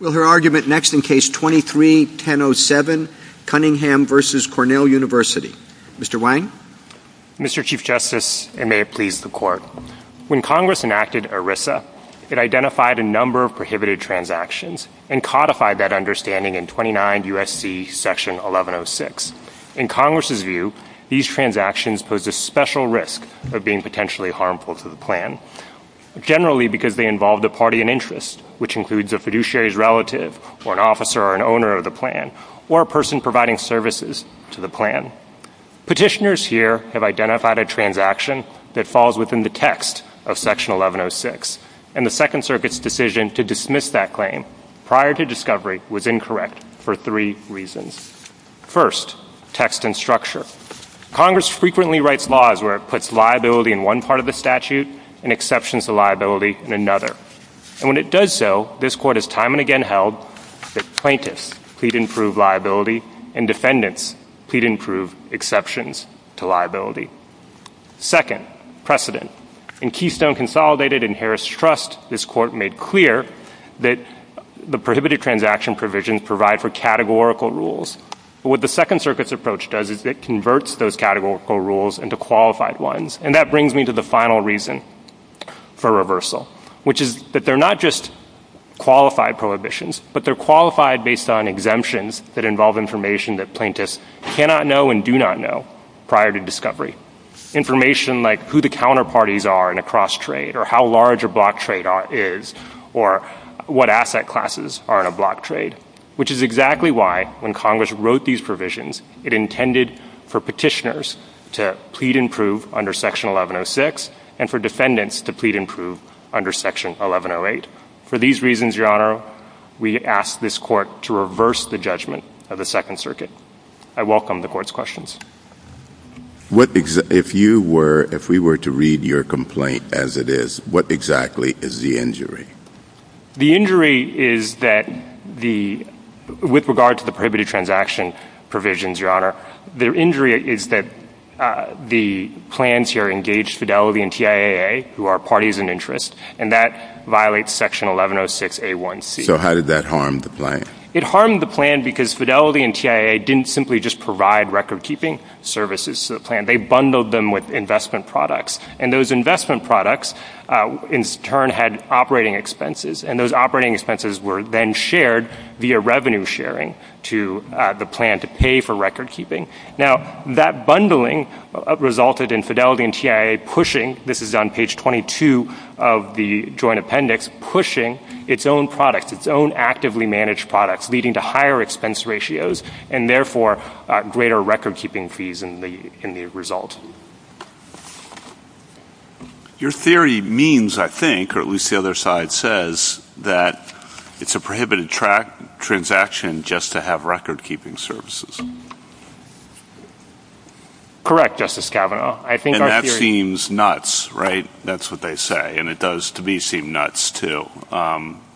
Mr. Chief Justice, and may it please the Court, when Congress enacted ERISA, it identified a number of prohibited transactions and codified that understanding in 29 U.S.C. 1106. In Congress's view, these transactions posed a special risk of being potentially harmful to the plan, generally because they involved a party in interest, which includes a fiduciary's relative or an officer or an owner of the plan, or a person providing services to the plan. Petitioners here have identified a transaction that falls within the text of Section 1106, and the Second Circuit's decision to dismiss that claim prior to discovery was incorrect for three reasons. First, text and structure. Congress frequently writes laws where it puts liability in one part of the statute and exceptions to liability in another. And when it does so, this Court has time and again held that plaintiffs plead in proved liability and defendants plead in proved exceptions to liability. Second, precedent. In Keystone Consolidated and Harris Trust, this Court made clear that the prohibited transaction provisions provide for categorical rules. What the Second Circuit's approach does is it converts those categorical rules into qualified ones. And that brings me to the final reason for reversal, which is that they're not just qualified prohibitions, but they're qualified based on exemptions that involve information that plaintiffs cannot know and do not know prior to discovery. Information like who the counterparties are in a cross-trade, or how large a block trade is, or what asset classes are in a block trade, which is exactly why, when Congress wrote these provisions, it intended for petitioners to plead in proved under Section 1106 and for defendants to plead in proved under Section 1108. For these reasons, Your Honor, we ask this Court to reverse the judgment of the Second Circuit. I welcome the Court's questions. If we were to read your complaint as it is, what exactly is the injury? The injury is that, with regard to the prohibited transaction provisions, Your Honor, the injury is that the plans here engage Fidelity and TIAA, who are parties in interest, and that violates Section 1106A1C. So how did that harm the plan? It harmed the plan because Fidelity and TIAA didn't simply just provide record-keeping services to the plan. They bundled them with investment products. And those investment products, in turn, had operating expenses. And those operating expenses were then shared via revenue sharing to the plan to pay for record-keeping. Now, that bundling resulted in Fidelity and TIAA pushing—this is on page 22 of the Joint Appendix—pushing its own products, its own actively managed products, leading to higher Your theory means, I think, or at least the other side says, that it's a prohibited transaction just to have record-keeping services. Correct, Justice Kavanaugh. And that seems nuts, right? That's what they say. And it does, to me, seem nuts, too.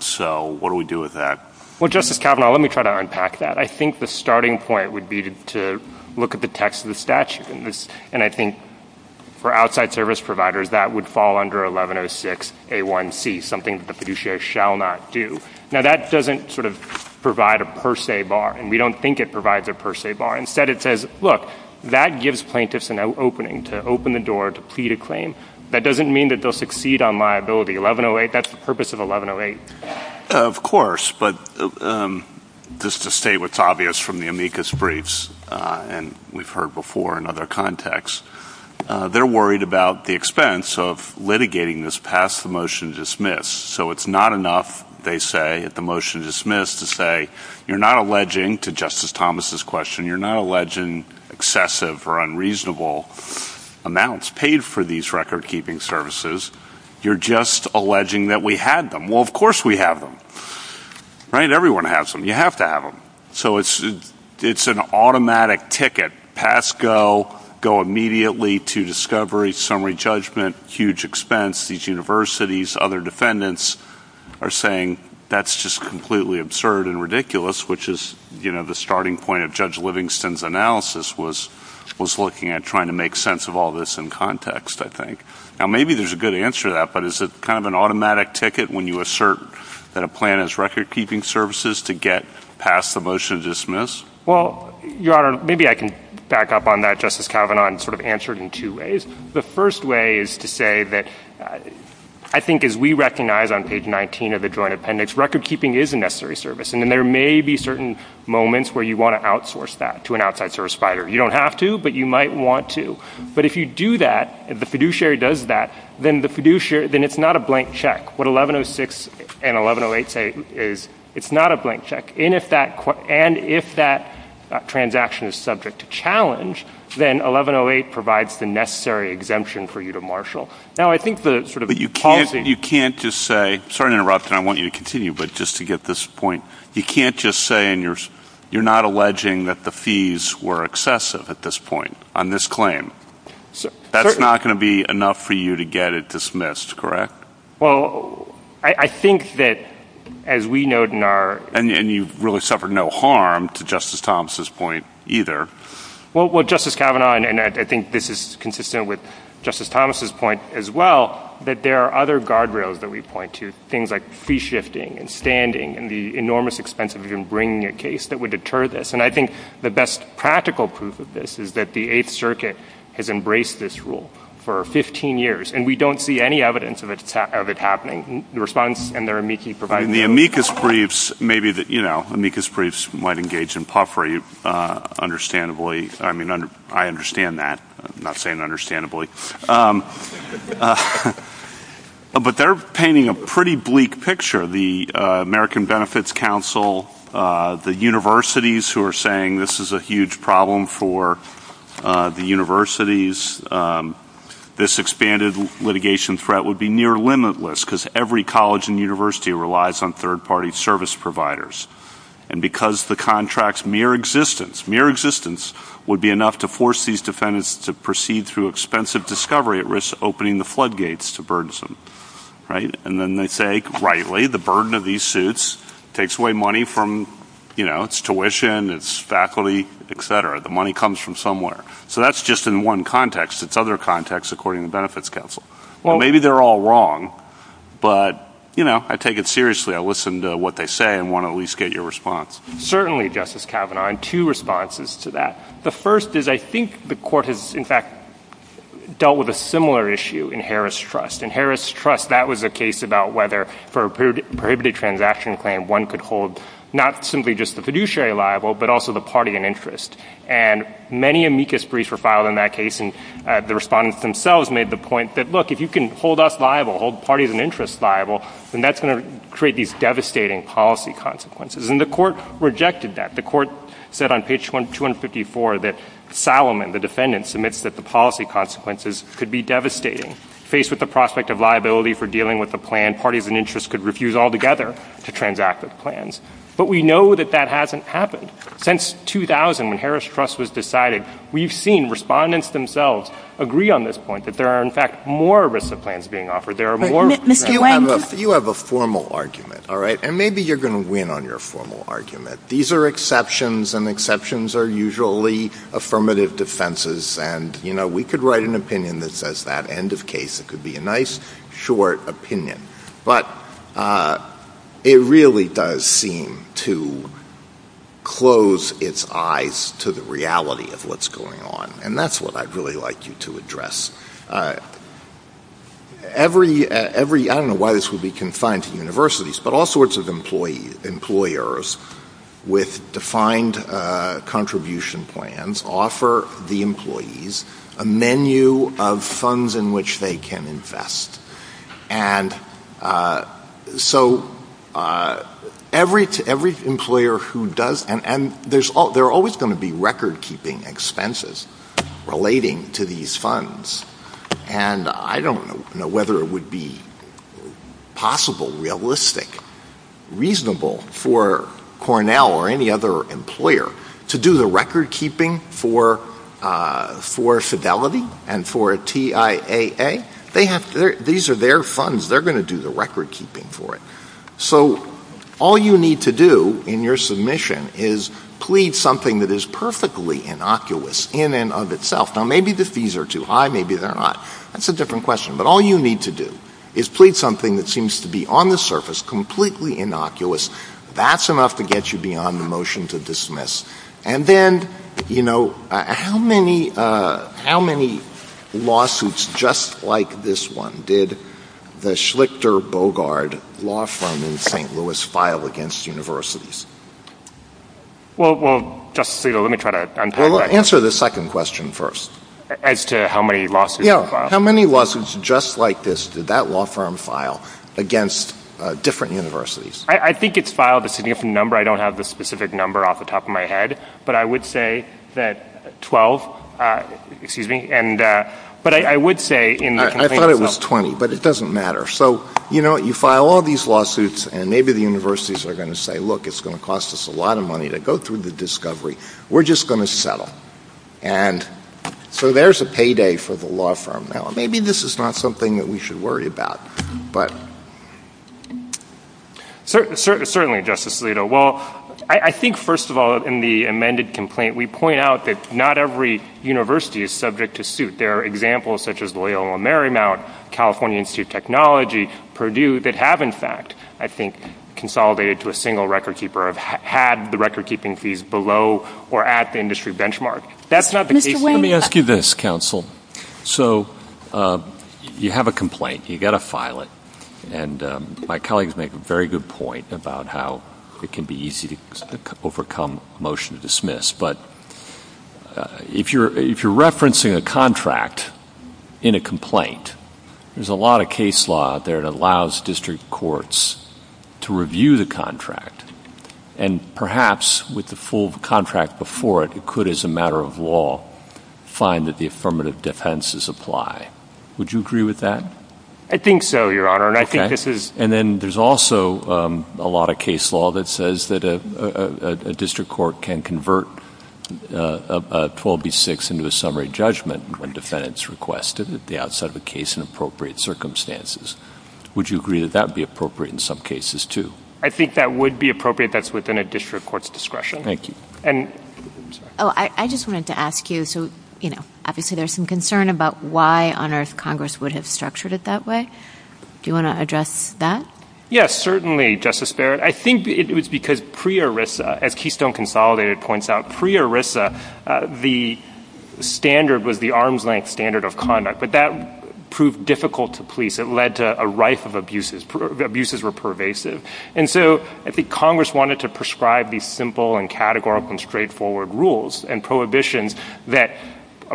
So what do we do with that? Well, Justice Kavanaugh, let me try to unpack that. I think the starting point would be to look at the text of the statute. And I think for outside service providers, that would fall under 1106A1C, something that the fiduciary shall not do. Now, that doesn't sort of provide a per se bar, and we don't think it provides a per se bar. Instead, it says, look, that gives plaintiffs an opening to open the door to plead a claim. That doesn't mean that they'll succeed on liability. 1108, that's the purpose of 1108. Of course, but just to state what's obvious from the amicus briefs, and we've heard before in other contexts, they're worried about the expense of litigating this past the motion to dismiss. So it's not enough, they say, at the motion to dismiss to say, you're not alleging to Justice Thomas' question, you're not alleging excessive or unreasonable amounts paid for these record-keeping services. You're just alleging that we had them. Well, of course we have them, right? Everyone has them. You have to have them. So it's an automatic ticket, pass, go, go immediately to discovery, summary judgment, huge expense. These universities, other defendants are saying that's just completely absurd and ridiculous, which is the starting point of Judge Livingston's analysis was looking at trying to make sense of all this in context, I think. Now, maybe there's a good answer to that, but it's kind of an automatic ticket when you assert that a plan is record-keeping services to get past the motion to dismiss. Well, Your Honor, maybe I can back up on that, Justice Kavanaugh, and sort of answer it in two ways. The first way is to say that I think as we recognize on page 19 of the Joint Appendix, record-keeping is a necessary service, and then there may be certain moments where you want to outsource that to an outside source provider. You don't have to, but you might want to. But if you do that, if the fiduciary does that, then it's not a blank check. What 1106 and 1108 say is it's not a blank check, and if that transaction is subject to challenge, then 1108 provides the necessary exemption for you to marshal. Now, I think the sort of policy— You can't just say—sorry to interrupt, and I want you to continue, but just to get this point—you can't just say you're not alleging that the fees were excessive at this point on this claim. That's not going to be enough for you to get it dismissed, correct? Well, I think that as we note in our— And you've really suffered no harm to Justice Thomas's point either. Well, Justice Kavanaugh, and I think this is consistent with Justice Thomas's point as well, that there are other guardrails that we point to, things like fee shifting and standing and the enormous expense of even bringing a case that would deter this. And I think the best practical proof of this is that the Eighth Circuit has embraced this for 15 years, and we don't see any evidence of it happening. The response and their amicus briefs— And the amicus briefs, maybe the—you know, amicus briefs might engage in puffery, understandably. I mean, I understand that, I'm not saying understandably. But they're painting a pretty bleak picture. The American Benefits Council, the universities who are saying this is a huge problem for the universities, this expanded litigation threat would be near limitless because every college and university relies on third-party service providers. And because the contract's mere existence, mere existence would be enough to force these defendants to proceed through expensive discovery at risk of opening the floodgates to burdensome, right? And then they say, rightly, the burden of these suits takes away money from, you know, its tuition, its faculty, et cetera. The money comes from somewhere. So that's just in one context. It's other contexts, according to the Benefits Council. Maybe they're all wrong, but, you know, I take it seriously. I listen to what they say and want to at least get your response. Certainly, Justice Kavanaugh, and two responses to that. The first is I think the court has, in fact, dealt with a similar issue in Harris Trust. In Harris Trust, that was a case about whether, for a prohibited transaction claim, one could hold not simply just the fiduciary liable, but also the party in interest. And many amicus briefs were filed in that case, and the respondents themselves made the point that, look, if you can hold us liable, hold parties in interest liable, then that's going to create these devastating policy consequences. And the court rejected that. The court said on page 254 that Salomon, the defendant, submits that the policy consequences could be devastating. Faced with the prospect of liability for dealing with the plan, parties in interest could refuse altogether to transact with the plans. But we know that that hasn't happened. Since 2000, when Harris Trust was decided, we've seen respondents themselves agree on this point that there are, in fact, more risk of plans being offered. There are more— Mr. Wendler— You have a formal argument, all right? And maybe you're going to win on your formal argument. These are exceptions, and exceptions are usually affirmative defenses, and, you know, we could write an opinion that says that, end of case. It could be a nice, short opinion. But it really does seem to close its eyes to the reality of what's going on. And that's what I'd really like you to address. Every—I don't know why this would be confined to the universities, but all sorts of employers with defined contribution plans offer the employees a menu of funds in which they can invest. And so every employer who does—and there are always going to be record-keeping expenses relating to these funds, and I don't know whether it would be possible, realistic, reasonable for Cornell or any other employer to do the record-keeping for Fidelity and for TIAA. They have—these are their funds. They're going to do the record-keeping for it. So all you need to do in your submission is plead something that is perfectly innocuous in and of itself. Now, maybe the fees are too high. Maybe they're not. That's a different question. But all you need to do is plead something that seems to be on the surface, completely innocuous. That's enough to get you beyond the motion to dismiss. And then, you know, how many lawsuits just like this one did the Schlichter-Bogart law firm in St. Louis file against universities? Well, Justice Alito, let me try to untangle that one. Well, answer the second question first. As to how many lawsuits it filed. How many lawsuits just like this did that law firm file against different universities? I think it filed a significant number. I don't have the specific number off the top of my head. But I would say that 12—excuse me. But I would say— I thought it was 20. But it doesn't matter. So, you know, you file all these lawsuits, and maybe the universities are going to say, look, it's going to cost us a lot of money to go through the discovery. We're just going to settle. And so there's a payday for the law firm now. Maybe this is not something that we should worry about. Certainly, Justice Alito. Well, I think, first of all, in the amended complaint, we point out that not every university is subject to suit. There are examples such as Loyola Marymount, California Institute of Technology, Purdue, that have, in fact, I think, consolidated to a single record-keeper, have had the record-keeping fees below or at the industry benchmark. That's not the case— Let me ask you this, counsel. So you have a complaint. You've got to file it. And my colleagues make a very good point about how it can be easy to overcome motion to dismiss. But if you're referencing a contract in a complaint, there's a lot of case law out there that allows district courts to review the contract. And perhaps with the full contract before it, it could, as a matter of law, find that the affirmative defenses apply. Would you agree with that? I think so, Your Honor. And I think this is— And then there's also a lot of case law that says that a district court can convert a 12B6 into a summary judgment when defendants request it at the outside of the case in appropriate circumstances. Would you agree that that would be appropriate in some cases, too? I think that would be appropriate. That's within a district court's discretion. Thank you. And— Oh, I just wanted to ask you, so, you know, obviously, there's some concern about why on earth Congress would have structured it that way. Do you want to address that? Yes, certainly, Justice Barrett. I think it was because pre-ERISA, as Keystone Consolidated points out, pre-ERISA, the standard was the arm's-length standard of conduct. But that proved difficult to police. It led to a rife of abuses. Abuses were pervasive. And so I think Congress wanted to prescribe these simple and categorical and straightforward rules and prohibitions that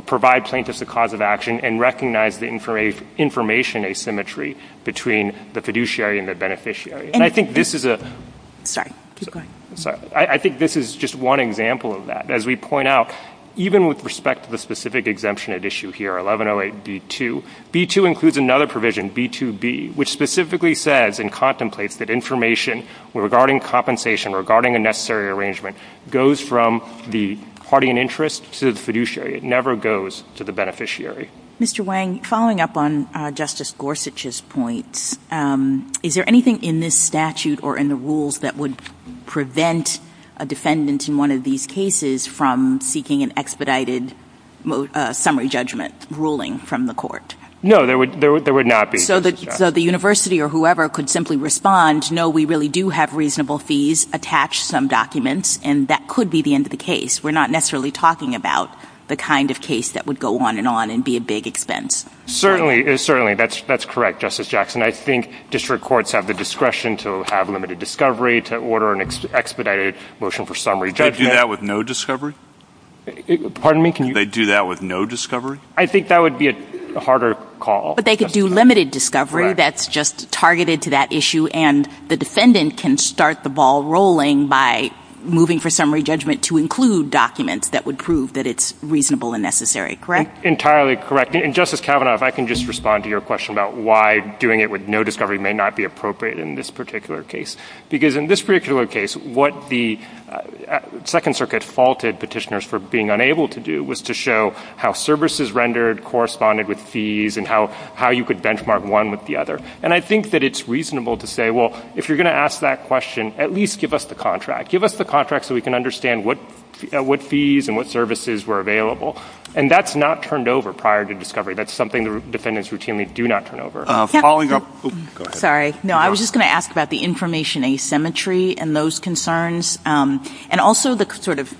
provide plaintiffs a cause of action and recognize the information asymmetry between the fiduciary and the beneficiary. And I think this is a— Just go ahead. Sorry. I think this is just one example of that. As we point out, even with respect to the specific exemption at issue here, 1108B2, B2 includes another provision, B2B, which specifically says and contemplates that information regarding compensation, regarding a necessary arrangement, goes from the party in interest to the fiduciary. It never goes to the beneficiary. Mr. Wang, following up on Justice Gorsuch's points, is there anything in this statute or in the rules that would prevent a defendant in one of these cases from seeking an expedited summary judgment ruling from the court? No, there would not be. So the university or whoever could simply respond, no, we really do have reasonable fees attached to some documents, and that could be the end of the case. We're not necessarily talking about the kind of case that would go on and on and be a big expense. Certainly. Certainly. That's correct, Justice Jackson. I think district courts have the discretion to have limited discovery, to order an expedited motion for summary judgment. They'd do that with no discovery? Pardon me? Can you— They'd do that with no discovery? I think that would be a harder call. But they could do limited discovery that's just targeted to that issue, and the defendant can start the ball rolling by moving for summary judgment to include documents that would prove that it's reasonable and necessary, correct? Entirely correct. And Justice Kavanaugh, if I can just respond to your question about why doing it with no discovery may not be appropriate in this particular case. Because in this particular case, what the Second Circuit faulted petitioners for being able to do was to show how services rendered corresponded with fees and how you could benchmark one with the other. And I think that it's reasonable to say, well, if you're going to ask that question, at least give us the contract. Give us the contract so we can understand what fees and what services were available. And that's not turned over prior to discovery. That's something defendants routinely do not turn over. Paul, you're— Sorry. No, I was just going to ask about the information asymmetry and those concerns, and also the sort of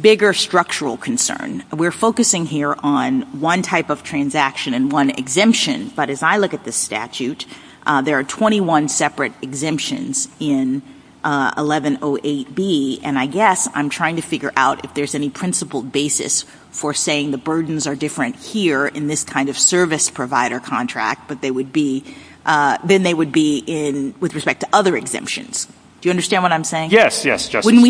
bigger structural concern. We're focusing here on one type of transaction and one exemption. But as I look at the statute, there are 21 separate exemptions in 1108B. And I guess I'm trying to figure out if there's any principled basis for saying the burdens are different here in this kind of service provider contract than they would be with respect to other exemptions. Do you understand what I'm saying? Yes, yes, Justice. Wouldn't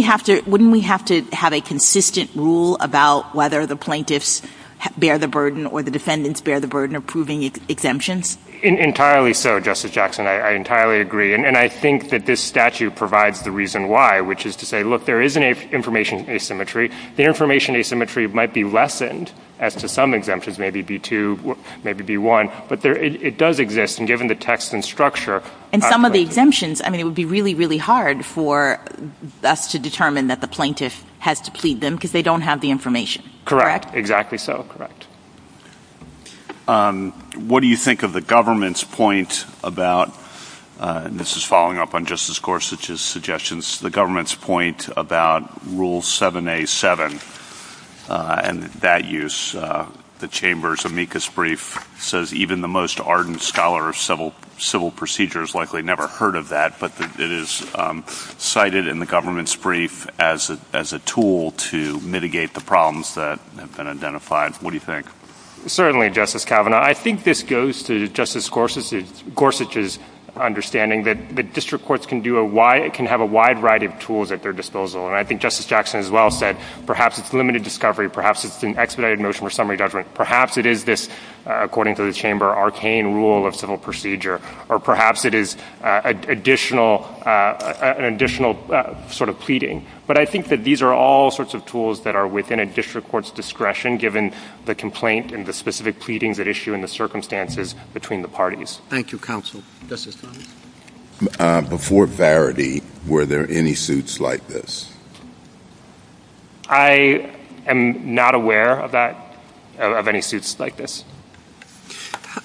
we have to have a consistent rule about whether the plaintiffs bear the burden or the defendants bear the burden of proving exemptions? Entirely so, Justice Jackson. I entirely agree. And I think that this statute provides the reason why, which is to say, look, there is an information asymmetry. The information asymmetry might be lessened as to some exemptions, maybe B-2, maybe B-1. But it does exist, and given the text and structure— And some of the exemptions, I mean, it would be really, really hard for us to determine that the plaintiff has to plead them because they don't have the information. Correct. Exactly so. Correct. What do you think of the government's point about—and this is following up on Justice Gorsuch's suggestions—the government's point about Rule 7A-7 and that use, the Chamber's amicus brief says even the most ardent scholar of civil procedures likely never heard of that, but it is cited in the government's brief as a tool to mitigate the problems that have been identified. What do you think? Certainly, Justice Kavanaugh. I think this goes to Justice Gorsuch's understanding that district courts can have a wide variety of tools at their disposal. And I think Justice Jackson as well said, perhaps it's limited discovery, perhaps it's an expedited motion or summary judgment. Perhaps it is this, according to the Chamber, arcane rule of civil procedure, or perhaps it is an additional sort of pleading. But I think that these are all sorts of tools that are within a district court's discretion given the complaint and the specific pleadings at issue and the circumstances between the Thank you, counsel. Justice Bromley? Before Varity, were there any suits like this? I am not aware of that, of any suits like this.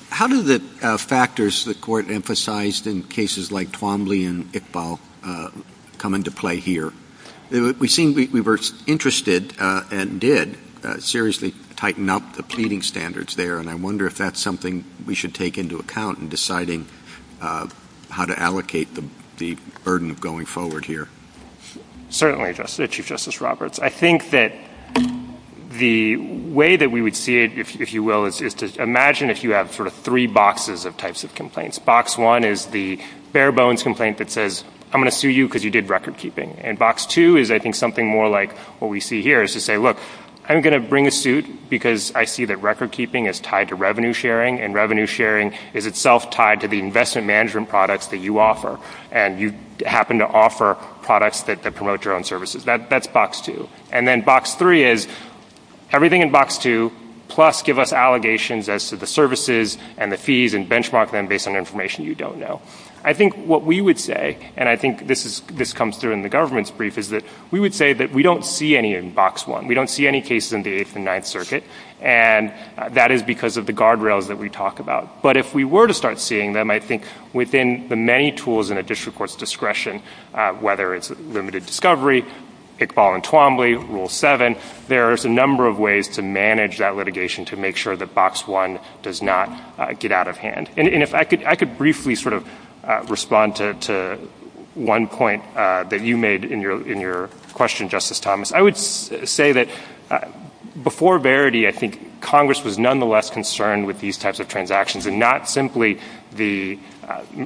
How do the factors the Court emphasized in cases like Twombly and Iqbal come into play here? We seem, we were interested and did seriously tighten up the pleading standards there, and I wonder if that's something we should take into account in deciding how to allocate the burden of going forward here. Certainly, Chief Justice Roberts. I think that the way that we would see it, if you will, is to imagine if you have sort of three boxes of types of complaints. Box one is the bare bones complaint that says, I'm going to sue you because you did record keeping. And box two is, I think, something more like what we see here, is to say, look, I'm going to bring a suit because I see that record keeping is tied to revenue sharing, and revenue sharing is itself tied to the investment management products that you offer. And you happen to offer products that promote your own services. That's box two. And then box three is, everything in box two, plus give us allegations as to the services and the fees and benchmark them based on information you don't know. I think what we would say, and I think this comes through in the government's brief, is that we would say that we don't see any in box one. We don't see any cases in the Eighth and Ninth Circuit, and that is because of the guardrails that we talk about. But if we were to start seeing them, I think within the many tools in a district court's discretion, whether it's limited discovery, pick, ball, and Twombly, rule seven, there's a number of ways to manage that litigation to make sure that box one does not get out of hand. And if I could briefly sort of respond to one point that you made in your question, Justice Thomas. I would say that before Verity, I think Congress was nonetheless concerned with these types of transactions, and not simply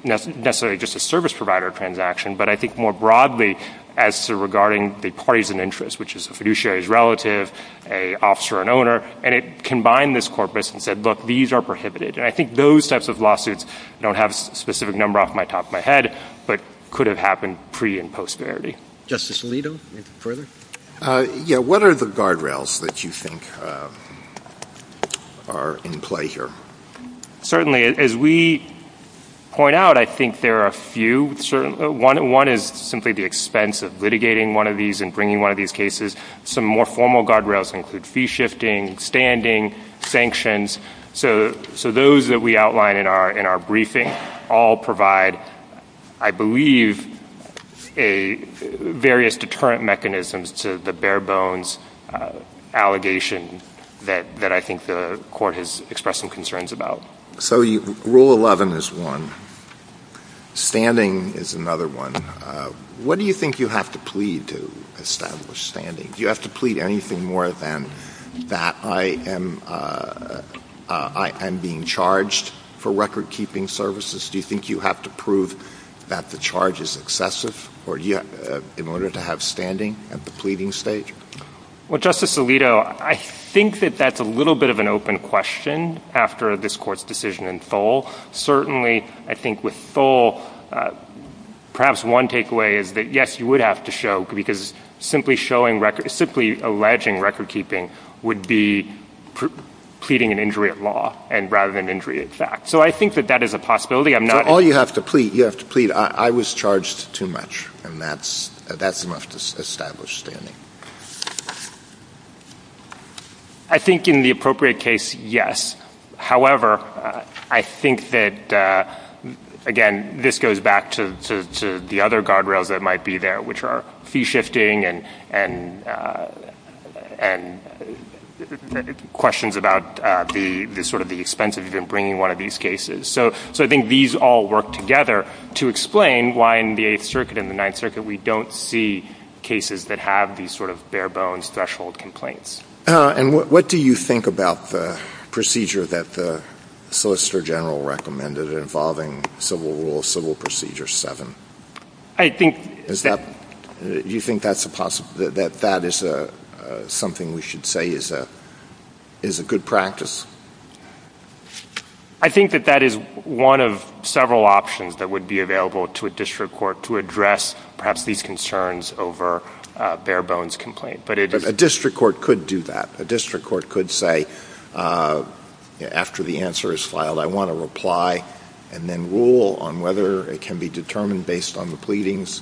necessarily just a service provider transaction, but I think more broadly as to regarding the parties in interest, which is a fiduciary's relative, an officer, an owner, and it combined this corpus and said, look, these are prohibited. And I think those types of lawsuits don't have a specific number off the top of my head, but could have happened pre and post Verity. Justice Alito, you have further? Yeah. What are the guardrails that you think are in play here? Certainly, as we point out, I think there are a few. One is simply the expense of litigating one of these and bringing one of these cases. Some more formal guardrails include fee shifting, standing, sanctions. So those that we outline in our briefing all provide, I believe, various deterrent mechanisms to the bare-bones allegation that I think the Court has expressed some concerns about. So Rule 11 is one. Standing is another one. What do you think you have to plead to establish standing? Do you have to plead anything more than that I am being charged for record-keeping services? Do you think you have to prove that the charge is excessive in order to have standing at the pleading stage? Well, Justice Alito, I think that that's a little bit of an open question after this Court's decision in Thole. Certainly, I think with Thole, perhaps one takeaway is that, yes, you would have to show, because simply alleging record-keeping would be pleading an injury of law rather than injury of fact. So I think that that is a possibility. All you have to plead, you have to plead, I was charged too much, and that's enough to establish standing. I think in the appropriate case, yes. However, I think that, again, this goes back to the other guardrails that might be there, which are fee shifting and questions about sort of the expense of even bringing one of these cases. So I think these all work together to explain why in the Eighth Circuit and the Ninth Circuit we don't see cases that have these sort of bare-bones threshold complaints. And what do you think about the procedure that the Solicitor General recommended involving Civil Rule, Civil Procedure 7? Do you think that that is something we should say is a good practice? I think that that is one of several options that would be available to a district court to address perhaps these concerns over a bare-bones complaint. But a district court could do that. A district court could say, after the answer is filed, I want a reply, and then rule on whether it can be determined based on the pleadings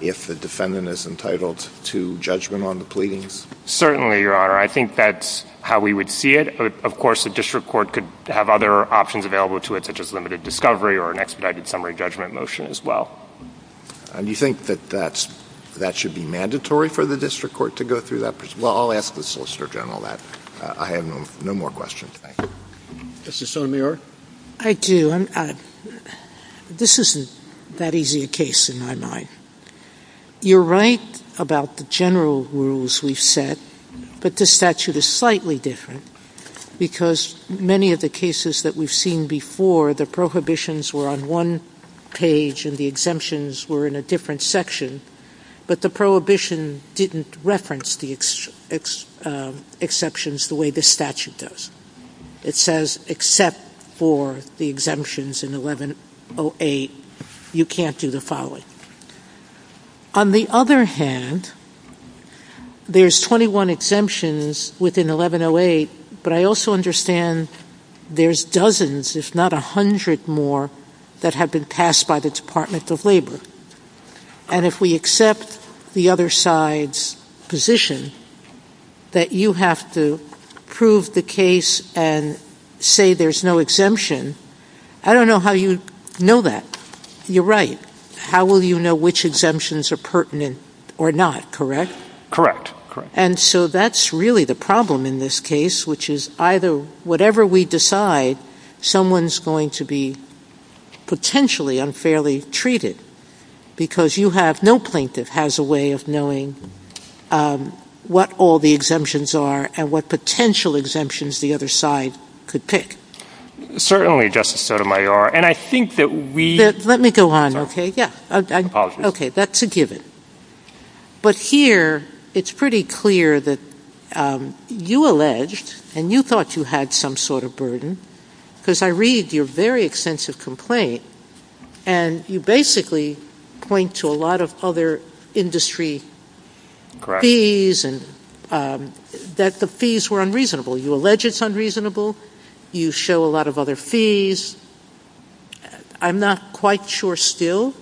if the defendant is entitled to judgment on the pleadings. Certainly, Your Honor. I think that's how we would see it. Of course, a district court could have other options available to it, such as limited discovery or an expedited summary judgment motion as well. Do you think that that should be mandatory for the district court to go through that procedure? Well, I'll ask the Solicitor General that. I have no more questions. Justice Sotomayor? I do. This isn't that easy a case in my mind. You're right about the general rules we've set, but this statute is slightly different because many of the cases that we've seen before, the prohibitions were on one page and the exemptions were in a different section, but the prohibition didn't reference the exceptions the way the statute does. It says, except for the exemptions in 1108, you can't do the following. On the other hand, there's 21 exemptions within 1108, but I also understand there's dozens, if not a hundred more, that have been passed by the Department of Labor. And if we accept the other side's position that you have to prove the case and say there's no exemption, I don't know how you know that. You're right. How will you know which exemptions are pertinent or not, correct? Correct. And so that's really the problem in this case, which is either whatever we decide, someone's going to be potentially unfairly treated because you have no plaintiff has a way of knowing what all the exemptions are and what potential exemptions the other side could pick. Certainly, Justice Sotomayor, and I think that we... Let me go on, okay? Apologies. Okay, that's a given. But here, it's pretty clear that you alleged and you thought you had some sort of burden because I read your very extensive complaint and you basically point to a lot of other industry fees and that the fees were unreasonable. You allege it's unreasonable. You show a lot of other fees. I'm not quite sure still,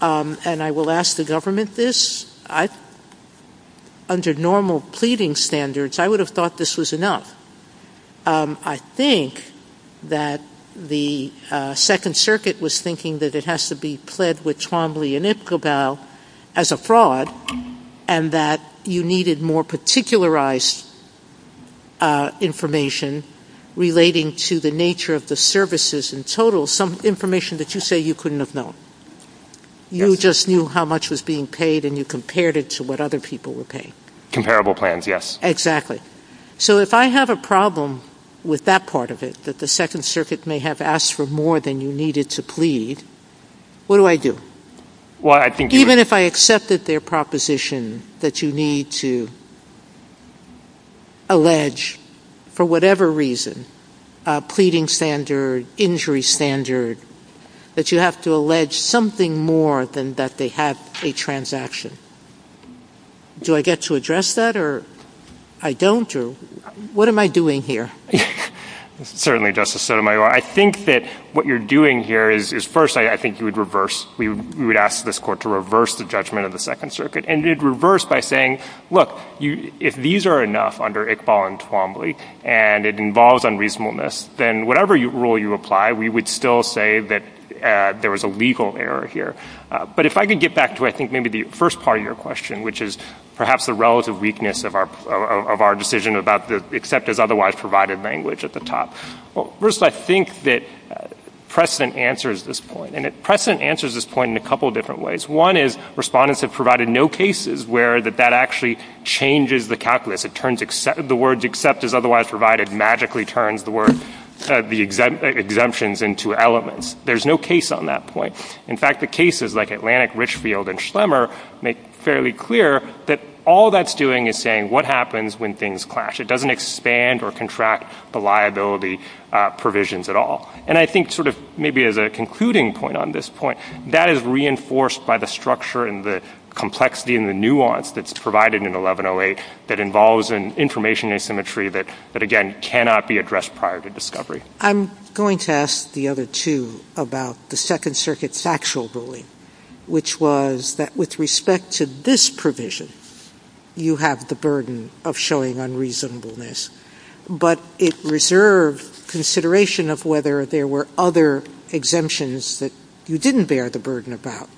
and I will ask the government this, under normal pleading standards, I would have thought this was enough. I think that the Second Circuit was thinking that it has to be pled with Trombley and Ipcobal as a fraud and that you needed more particularized information relating to the nature of the services in total, some information that you say you couldn't have known. You just knew how much was being paid and you compared it to what other people were paying. Comparable plans, yes. Exactly. So if I have a problem with that part of it, that the Second Circuit may have asked for more than you needed to plead, what do I do? Even if I accepted their proposition that you need to allege for whatever reason, pleading standard, injury standard, that you have to allege something more than that they had a transaction. Do I get to address that or I don't? What am I doing here? Certainly, Justice Sotomayor. I think that what you're doing here is, first, I think you would reverse, you would ask this court to reverse the judgment of the Second Circuit and you'd reverse by saying, look, if these are enough under Iqbal and Twombly and it involves unreasonableness, then whatever rule you apply, we would still say that there was a legal error here. But if I could get back to, I think, maybe the first part of your question, which is perhaps the relative weakness of our decision about the acceptor's otherwise provided language at the top. First, I think that precedent answers this point. And precedent answers this point in a couple of different ways. One is respondents have provided no cases where that actually changes the calculus. It turns the words acceptors otherwise provided magically turns the word exemptions into elements. There's no case on that point. In fact, the cases like Atlantic, Richfield and Schlemmer make fairly clear that all that's doing is saying what happens when things clash. It doesn't expand or contract the liability provisions at all. And I think sort of maybe as a concluding point on this point, that is reinforced by the structure and the complexity and the nuance that's provided in 1108 that involves an information asymmetry that, again, cannot be addressed prior to discovery. I'm going to ask the other two about the Second Circuit's actual ruling, which was that with respect to this provision, you have the burden of showing unreasonableness, but it reserved consideration of whether there were other exemptions that you didn't bear the burden about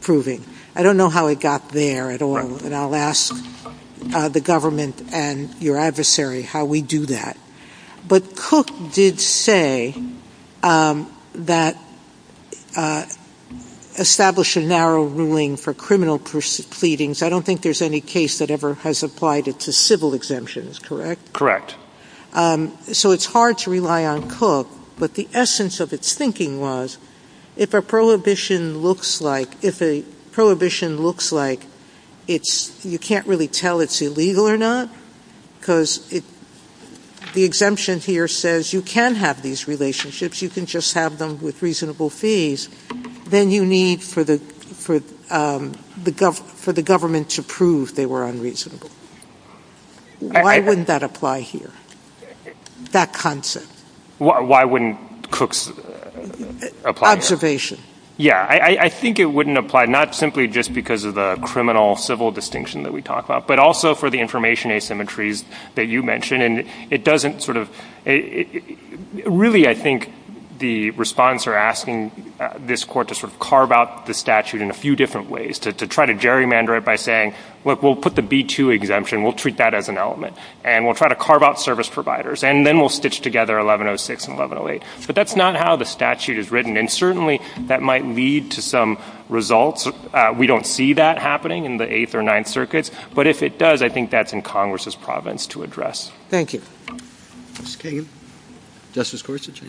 proving. I don't know how it got there at all, and I'll ask the government and your adversary how we do that. But Cook did say that establish a narrow ruling for criminal pleadings. I don't think there's any case that ever has applied it to civil exemptions, correct? So it's hard to rely on Cook, but the essence of its thinking was if a prohibition looks like it's... you can't really tell it's illegal or not because the exemption here says you can have these relationships, you can just have them with reasonable fees, then you need for the government to prove they were unreasonable. Why wouldn't that apply here, that concept? Why wouldn't Cook's... Observation. Yeah, I think it wouldn't apply, not simply just because of the criminal-civil distinction that we talked about, but also for the information asymmetries that you mentioned, and it doesn't sort of... Really, I think the response you're asking this court to sort of carve out the statute in a few different ways, to try to gerrymander it by saying, look, we'll put the B-2 exemption, we'll treat that as an element, and we'll try to carve out service providers, and then we'll stitch together 1106 and 1108. But that's not how the statute is written, and certainly that might lead to some results. We don't see that happening in the Eighth or Ninth Circuits, but if it does, I think that's in Congress's province to address. Thank you. Mr. Cahill? Justice Gorsuch?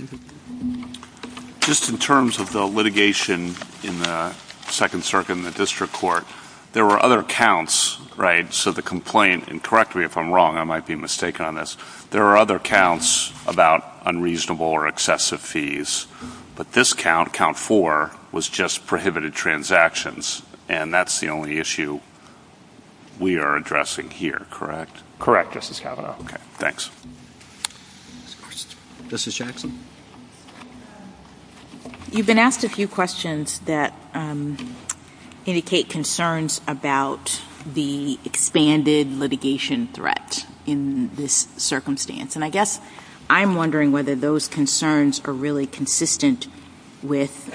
Just in terms of the litigation in the Second Circuit and the District Court, there were other counts, right? So the complaint... And correct me if I'm wrong, I might be mistaken on this. There are other counts about unreasonable or excessive fees, but this count, Count 4, was just prohibited transactions, and that's the only issue we are addressing here, correct? Correct, Justice Kavanaugh. Okay, thanks. Justice Jackson? You've been asked a few questions that indicate concerns about the expanded litigation threat in this circumstance, and I guess I'm wondering whether those concerns are really consistent with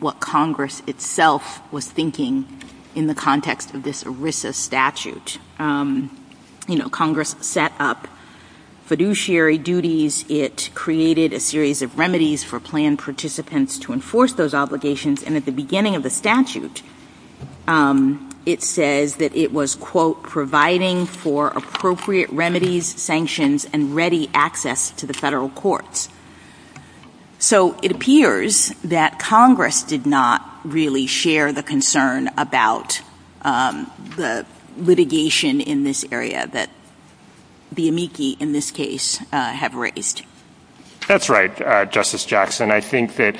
what Congress itself was thinking in the context of this ERISA statute. You know, Congress set up fiduciary duties. It created a series of remedies for planned participants to enforce those obligations, and at the beginning of the statute, it says that it was, quote, providing for appropriate remedies, sanctions, and ready access to the federal courts. So it appears that Congress did not really share the concern about the litigation in this area that the amici in this case have raised. That's right, Justice Jackson. I think that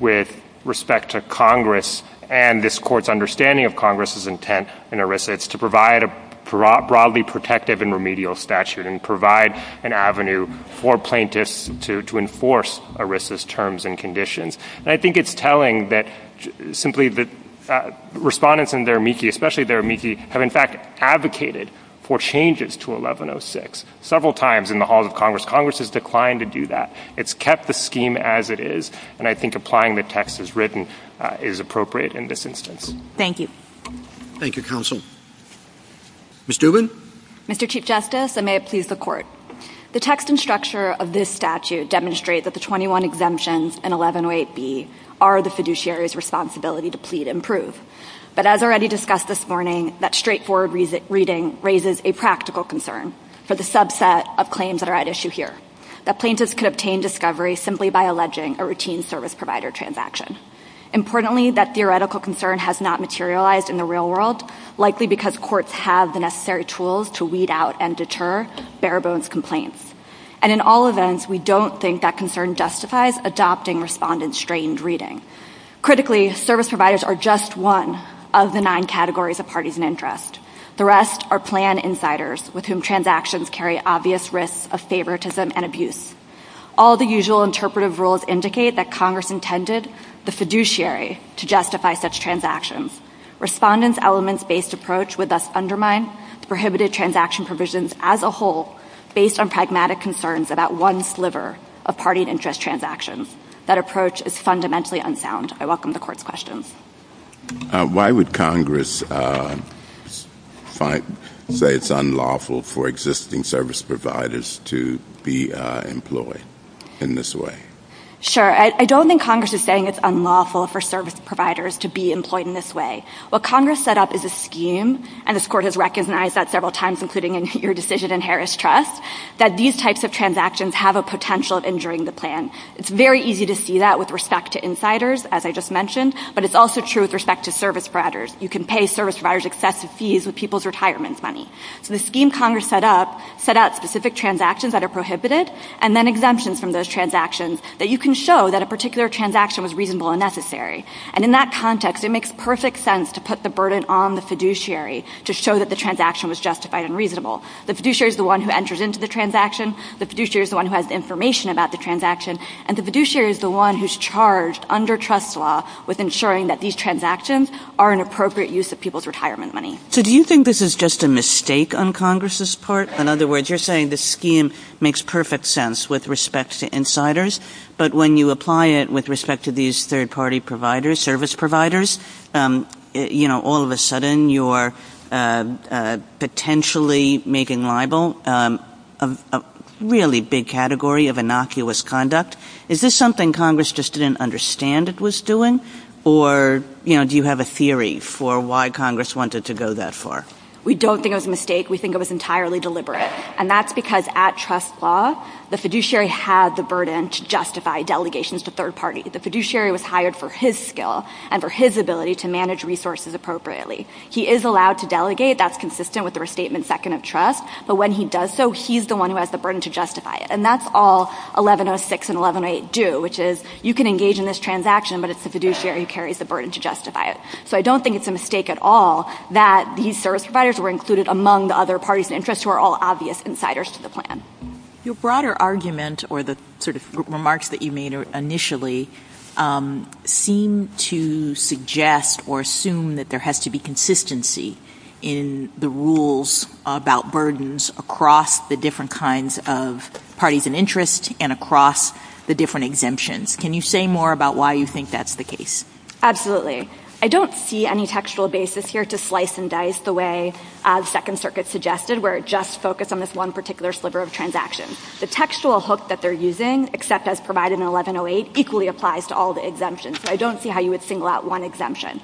with respect to Congress and this court's understanding of Congress's intent in ERISA, it's to provide a broadly protective and remedial statute and provide an avenue for plaintiffs to enforce ERISA's terms and conditions, and I think it's telling that simply that respondents in their amici, especially their amici, have in fact advocated for changes to 1106 several times in the halls of Congress. Congress has declined to do that. It's kept the scheme as it is, and I think applying the text as written is appropriate in this instance. Thank you. Thank you, counsel. Ms. Dubin. Mr. Chief Justice, and may it please the court. The text and structure of this statute demonstrate that the 21 exemptions and 1108B are the fiduciary's responsibility to plead and prove, but as already discussed this morning, that straightforward reading raises a practical concern for the subset of claims that are at issue here, that plaintiffs could obtain discovery simply by alleging a routine service provider transaction. Importantly, that theoretical concern has not materialized in the real world, likely because courts have the necessary tools to weed out and deter bare-bones complaints. And in all events, we don't think that concern justifies adopting respondent-strained reading. Critically, service providers are just one of the nine categories of parties in interest. The rest are plan insiders with whom transactions carry obvious risks of favoritism and abuse. All the usual interpretive rules indicate that Congress intended the fiduciary to justify such transactions. Respondent's elements-based approach would thus undermine prohibited transaction provisions as a whole based on pragmatic concerns about one sliver of party interest transactions. That approach is fundamentally unsound. I welcome the court's questions. Why would Congress say it's unlawful for existing service providers to be employed in this way? Sure, I don't think Congress is saying it's unlawful for service providers to be employed in this way. What Congress set up is a scheme, and this court has recognized that several times, including in your decision in Harris Trust, that these types of transactions have a potential of injuring the plan. It's very easy to see that with respect to insiders, as I just mentioned, but it's also true with respect to service providers. You can pay service providers excessive fees with people's retirement money. The scheme Congress set up set out specific transactions that are prohibited and then exemptions from those transactions that you can show that a particular transaction was reasonable and necessary. In that context, it makes perfect sense to put the burden on the fiduciary to show that the transaction was justified and reasonable. The fiduciary is the one who enters into the transaction. The fiduciary is the one who has information about the transaction, and the fiduciary is the one who's charged under trust law with ensuring that these transactions are an appropriate use of people's retirement money. So do you think this is just a mistake on Congress's part? In other words, you're saying this scheme makes perfect sense with respect to insiders, but when you apply it with respect to these third-party providers, service providers, you know, all of a sudden, you are potentially making libel a really big category of innocuous conduct. Is this something Congress just didn't understand it was doing, or, you know, do you have a theory for why Congress wanted to go that far? We don't think it was a mistake. We think it was entirely deliberate, and that's because at trust law, the fiduciary had the burden to justify delegations to third parties. The fiduciary was hired for his skill and for his ability to manage resources appropriately. He is allowed to delegate. That's consistent with the restatement second of trust, but when he does so, he's the one who has the burden to justify it, and that's all 1106 and 1108 do, which is you can engage in this transaction, but it's the fiduciary who carries the burden to justify it, so I don't think it's a mistake at all that these service providers were included among the other parties of interest who are all obvious insiders to the plan. Your broader argument, or the sort of remarks that you made initially, seem to suggest or assume that there has to be consistency in the rules about burdens across the different kinds of parties of interest and across the different exemptions. Can you say more about why you think that's the case? Absolutely. I don't see any textual basis here to slice and dice the way the Second Circuit suggested, where it just focused on this one particular sliver of transactions. The textual hook that they're using, except as provided in 1108, equally applies to all the exemptions, so I don't see how you would single out one exemption.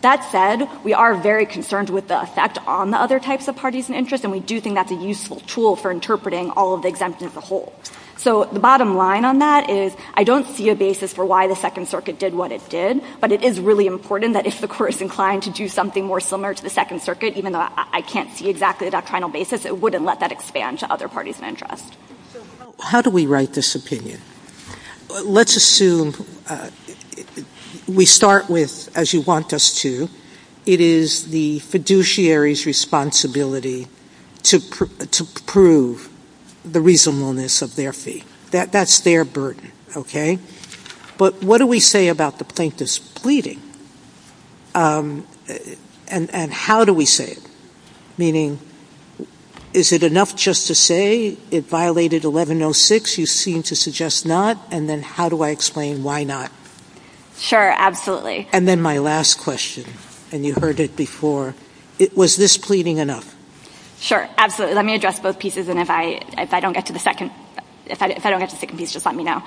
That said, we are very concerned with the effect on the other types of parties of interest, and we do think that's a useful tool for interpreting all of the exemptions as a whole. So the bottom line on that is, I don't see a basis for why the Second Circuit did what it did, but it is really important that if the Court is inclined to do something more similar to the Second Circuit, even though I can't see exactly the doctrinal basis, it wouldn't let that expand to other parties of interest. How do we write this opinion? Let's assume we start with, as you want us to, it is the fiduciary's responsibility to prove the reasonableness of their fee. That's their burden. But what do we say about the plaintiff's pleading? And how do we say it? Meaning, is it enough just to say it violated 1106? You seem to suggest not. And then how do I explain why not? Sure, absolutely. And then my last question, and you heard it before, was this pleading enough? Sure, absolutely. Let me address both pieces, and if I don't get to the second piece, just let me know.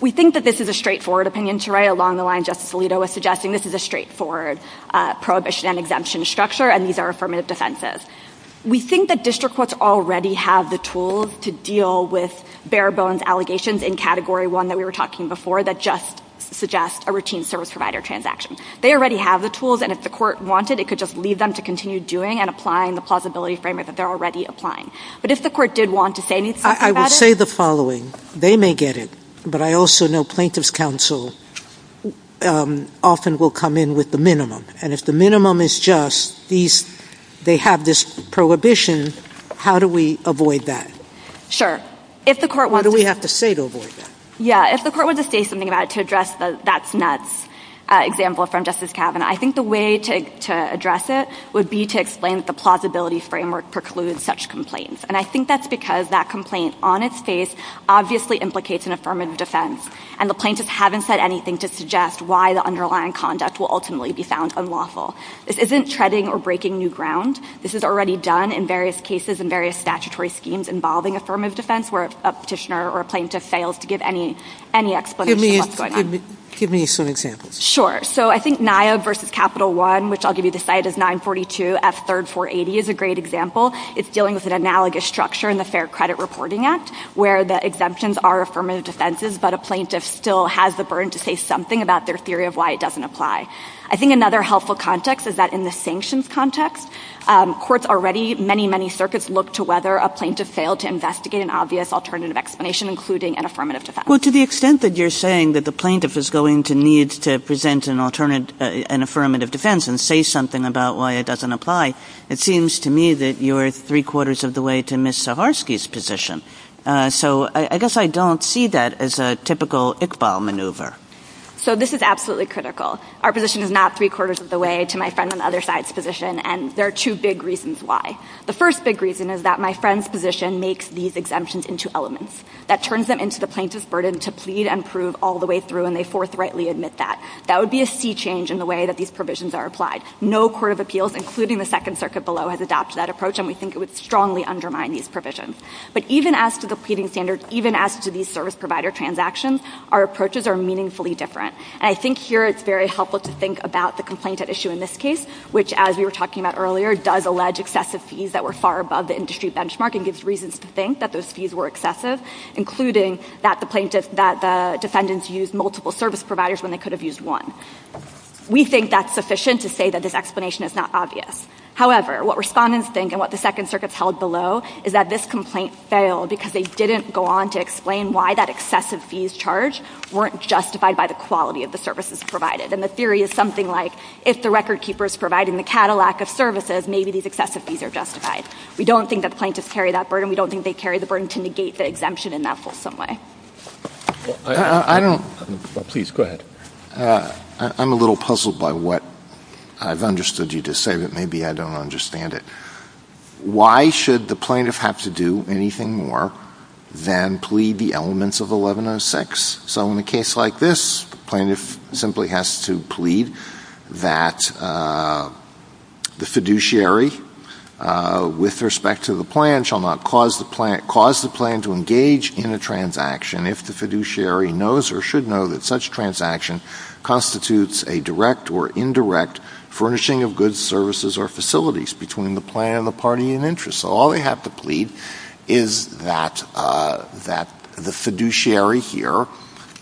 We think that this is a straightforward opinion to write along the lines Justice Alito was suggesting. This is a straightforward prohibition and exemption structure, and these are affirmative defenses. We think that district courts already have the tools to deal with bare-bones allegations in Category 1 that we were talking about before that just suggest a routine service provider transaction. They already have the tools, and if the court wanted, it could just leave them to continue doing and applying the plausibility framework that they're already applying. But if the court did want to say anything about it... I would say the following. They may get it, but I also know plaintiff's counsel often will come in with the minimum, and if the minimum is just they have this prohibition, how do we avoid that? What do we have to say to avoid that? Yeah, if the court were to say something about it to address the that's nuts example from Justice Kavanaugh, I think the way to address it would be to explain that the plausibility framework precludes such complaints, and I think that's because that complaint on its face obviously implicates an affirmative defense, and the plaintiffs haven't said anything to suggest why the underlying conduct will ultimately be found unlawful. This isn't treading or breaking new ground. This is already done in various cases and various statutory schemes involving affirmative defense where a petitioner or a plaintiff fails to give any explanation of what's going on. Give me some examples. Sure, so I think NIAV versus Capital One which I'll give you the site is 942 F. 3rd 480 is a great example. It's dealing with an analogous structure in the Fair Credit Reporting Act where the exemptions are affirmative defenses, but a plaintiff still has the burden to say something about their theory of why it doesn't apply. I think another helpful context is that in a sanctions context, courts already many, many circuits look to whether a plaintiff failed to investigate an obvious alternative explanation including an affirmative defense. Well, to the extent that you're saying that the plaintiff is going to need to present an affirmative defense and say something about why it doesn't apply, it seems to me that you're three-quarters of the way to Ms. Zaharsky's position, so I guess I don't see that as a typical Iqbal maneuver. So this is absolutely critical. Our position is not three-quarters of the way to my friend on the other side's position, and there are two big reasons why. The first big reason is that my friend's position makes these exemptions into elements. That turns them into the plaintiff's burden to plead and prove all the way through, and they forthrightly admit that. That would be a sea change in the way that these provisions are applied. No court of appeals, including the Second Circuit below, has adopted that approach, and we think it would strongly undermine these provisions. But even as to the pleading standards, even as to these service provider transactions, our approaches are meaningfully different. I think here it's very helpful to think about the complaint at issue in this case, which, as you were talking about earlier, does allege excessive fees that were far above the industry benchmark, and gives reasons to think that those fees were excessive, including that the defendant used multiple service providers when they could have used one. We think that's sufficient to say that this explanation is not obvious. However, what respondents think, and what the Second Circuit's held below, is that this complaint failed because they didn't go on to explain why that excessive fees charged weren't justified by the quality of the services provided. And the theory is something like, if the record keeper is providing the Cadillac of services, maybe these excessive fees are justified. We don't think that plaintiffs carry that burden. We don't think they carry the burden to negate the exemption in that wholesome way. I don't... Please, go ahead. I'm a little puzzled by what I've understood you to say that maybe I don't understand it. Why should the plaintiff have to do anything more than plead the elements of 1106? So in a case like this, the plaintiff simply has to plead that the fiduciary with respect to the plan shall not cause the plan to engage in a transaction if the fiduciary knows or should know that such transaction constitutes a direct or indirect furnishing of goods, services, or facilities between the plan and the party in interest. So all they have to plead is that the fiduciary here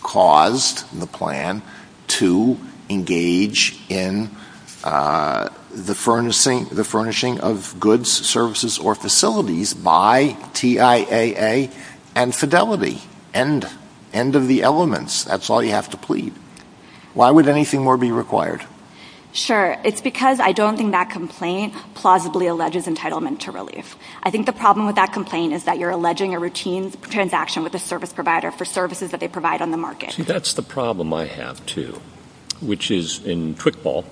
caused the plan to engage in the furnishing of goods, services, or facilities by TIAA and fidelity. End of the elements. That's all you have to plead. Why would anything more be required? Sure. It's because I don't think that complaint plausibly alleges entitlement to relief. I think the problem with that complaint is that you're alleging a routine transaction with a service provider for services that they provide on the market. See, that's the problem I have, too. Which is, in Quick Ball,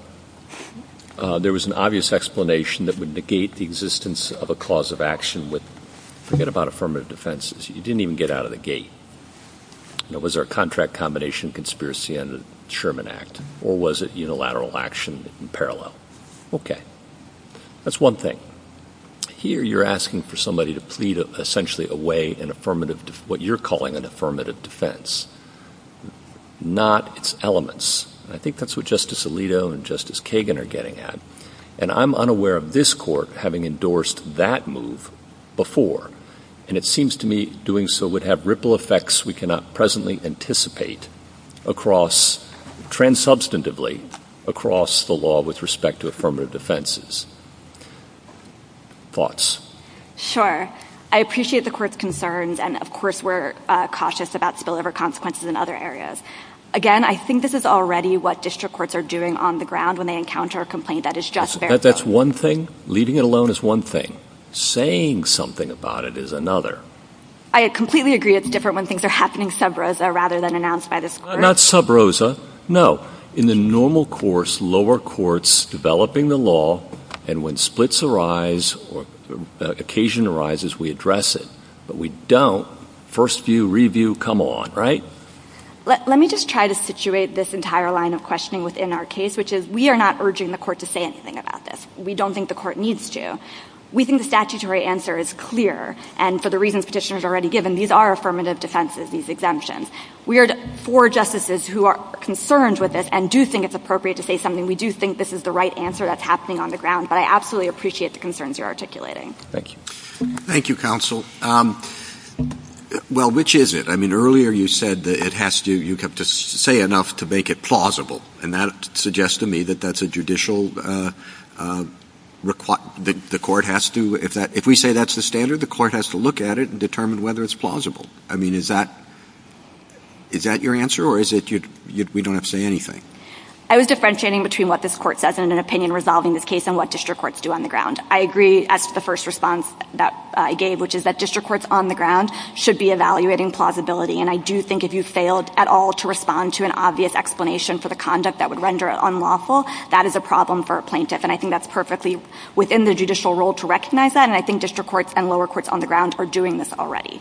there was an obvious explanation that would negate the existence of a clause of action with forget-about-affirmative-defenses. You didn't even get out of the gate. Was there a contract combination conspiracy under the Sherman Act, or was it unilateral action in parallel? Okay. That's one thing. Here, you're asking for somebody to plead, essentially, away what you're calling an affirmative defense, not its elements. I think that's what Justice Alito and Justice Kagan are getting at. And I'm unaware of this Court having endorsed that move before. And it seems to me doing so would have ripple effects we cannot presently anticipate transubstantively across the law with respect to affirmative defenses. Thoughts? Sure. I appreciate the Court's concerns, and, of course, we're cautious about spillover consequences in other areas. Again, I think this is already what district courts are doing on the ground when they encounter a complaint that is just their own. That's one thing. Leading it alone is one thing. Saying something about it is another. I completely agree it's different when things are happening sub-rosa rather than announced by the Court. Not sub-rosa. No. In the normal course, lower courts developing the law, and when splits arise or occasion arises, we address it. But we don't. First view, review, come on, right? Let me just try to situate this entire line of questioning within our case, which is we are not urging the Court to say anything about this. We don't think the Court needs to. We think the statutory answer is clear, and for the reasons Petitioner's already given, these are affirmative defenses, these exemptions. We are four justices who are concerned with this and do think it's appropriate to say something. We do think this is the right answer that's happening on the ground, but I absolutely appreciate the concerns you're articulating. Thank you, Counsel. Well, which is it? Earlier you said that you have to say enough to make it plausible, and that suggests to me that that's a judicial requirement. The Court has to if we say that's the standard, the Court has to look at it and determine whether it's plausible. Is that your answer, or is it we don't have to say anything? I was differentiating between what this Court says in an opinion resolving this case and what district courts do on the ground. I agree that's the first response that I gave, which is that district courts on the ground should be evaluating plausibility, and I do think if you failed at all to respond to an obvious explanation for the conduct that would render it unlawful, that is a problem for a plaintiff, and I think that's perfectly within the judicial role to recognize that, and I think district courts and lower courts on the ground are doing this already.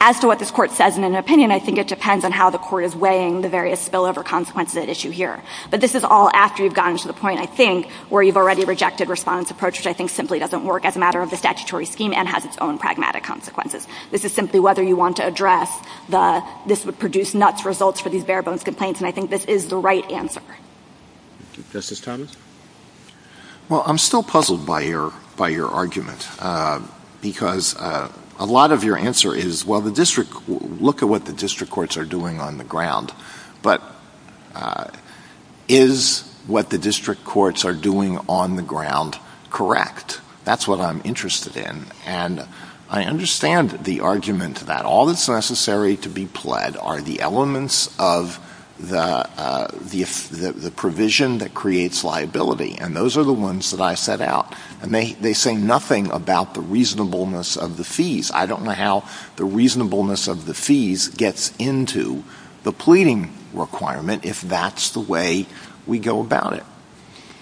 As to what this Court says in an opinion, I think it depends on how the Court is weighing the various spillover consequences at issue here, but this is all after you've gotten to the point, I think, where you've already rejected Respondent's approach, which I think simply doesn't work as a matter of the statutory scheme and has its own pragmatic consequences. This is simply whether you want to address the this would produce nuts results for these bare-bones complaints, and I think this is the right answer. Justice Thomas? Well, I'm still puzzled by your argument, because a lot of your answer is, well, look at what the district courts are doing on the ground, but is what the district courts are doing on the ground correct? That's what I'm interested in, and I understand the argument that all that's necessary to be pled are the elements of the provision that creates liability, and those are the ones that I set out, and they say nothing about the reasonableness of the fees. I don't know how the reasonableness of the fees gets into the pleading requirement if that's the way we go about it.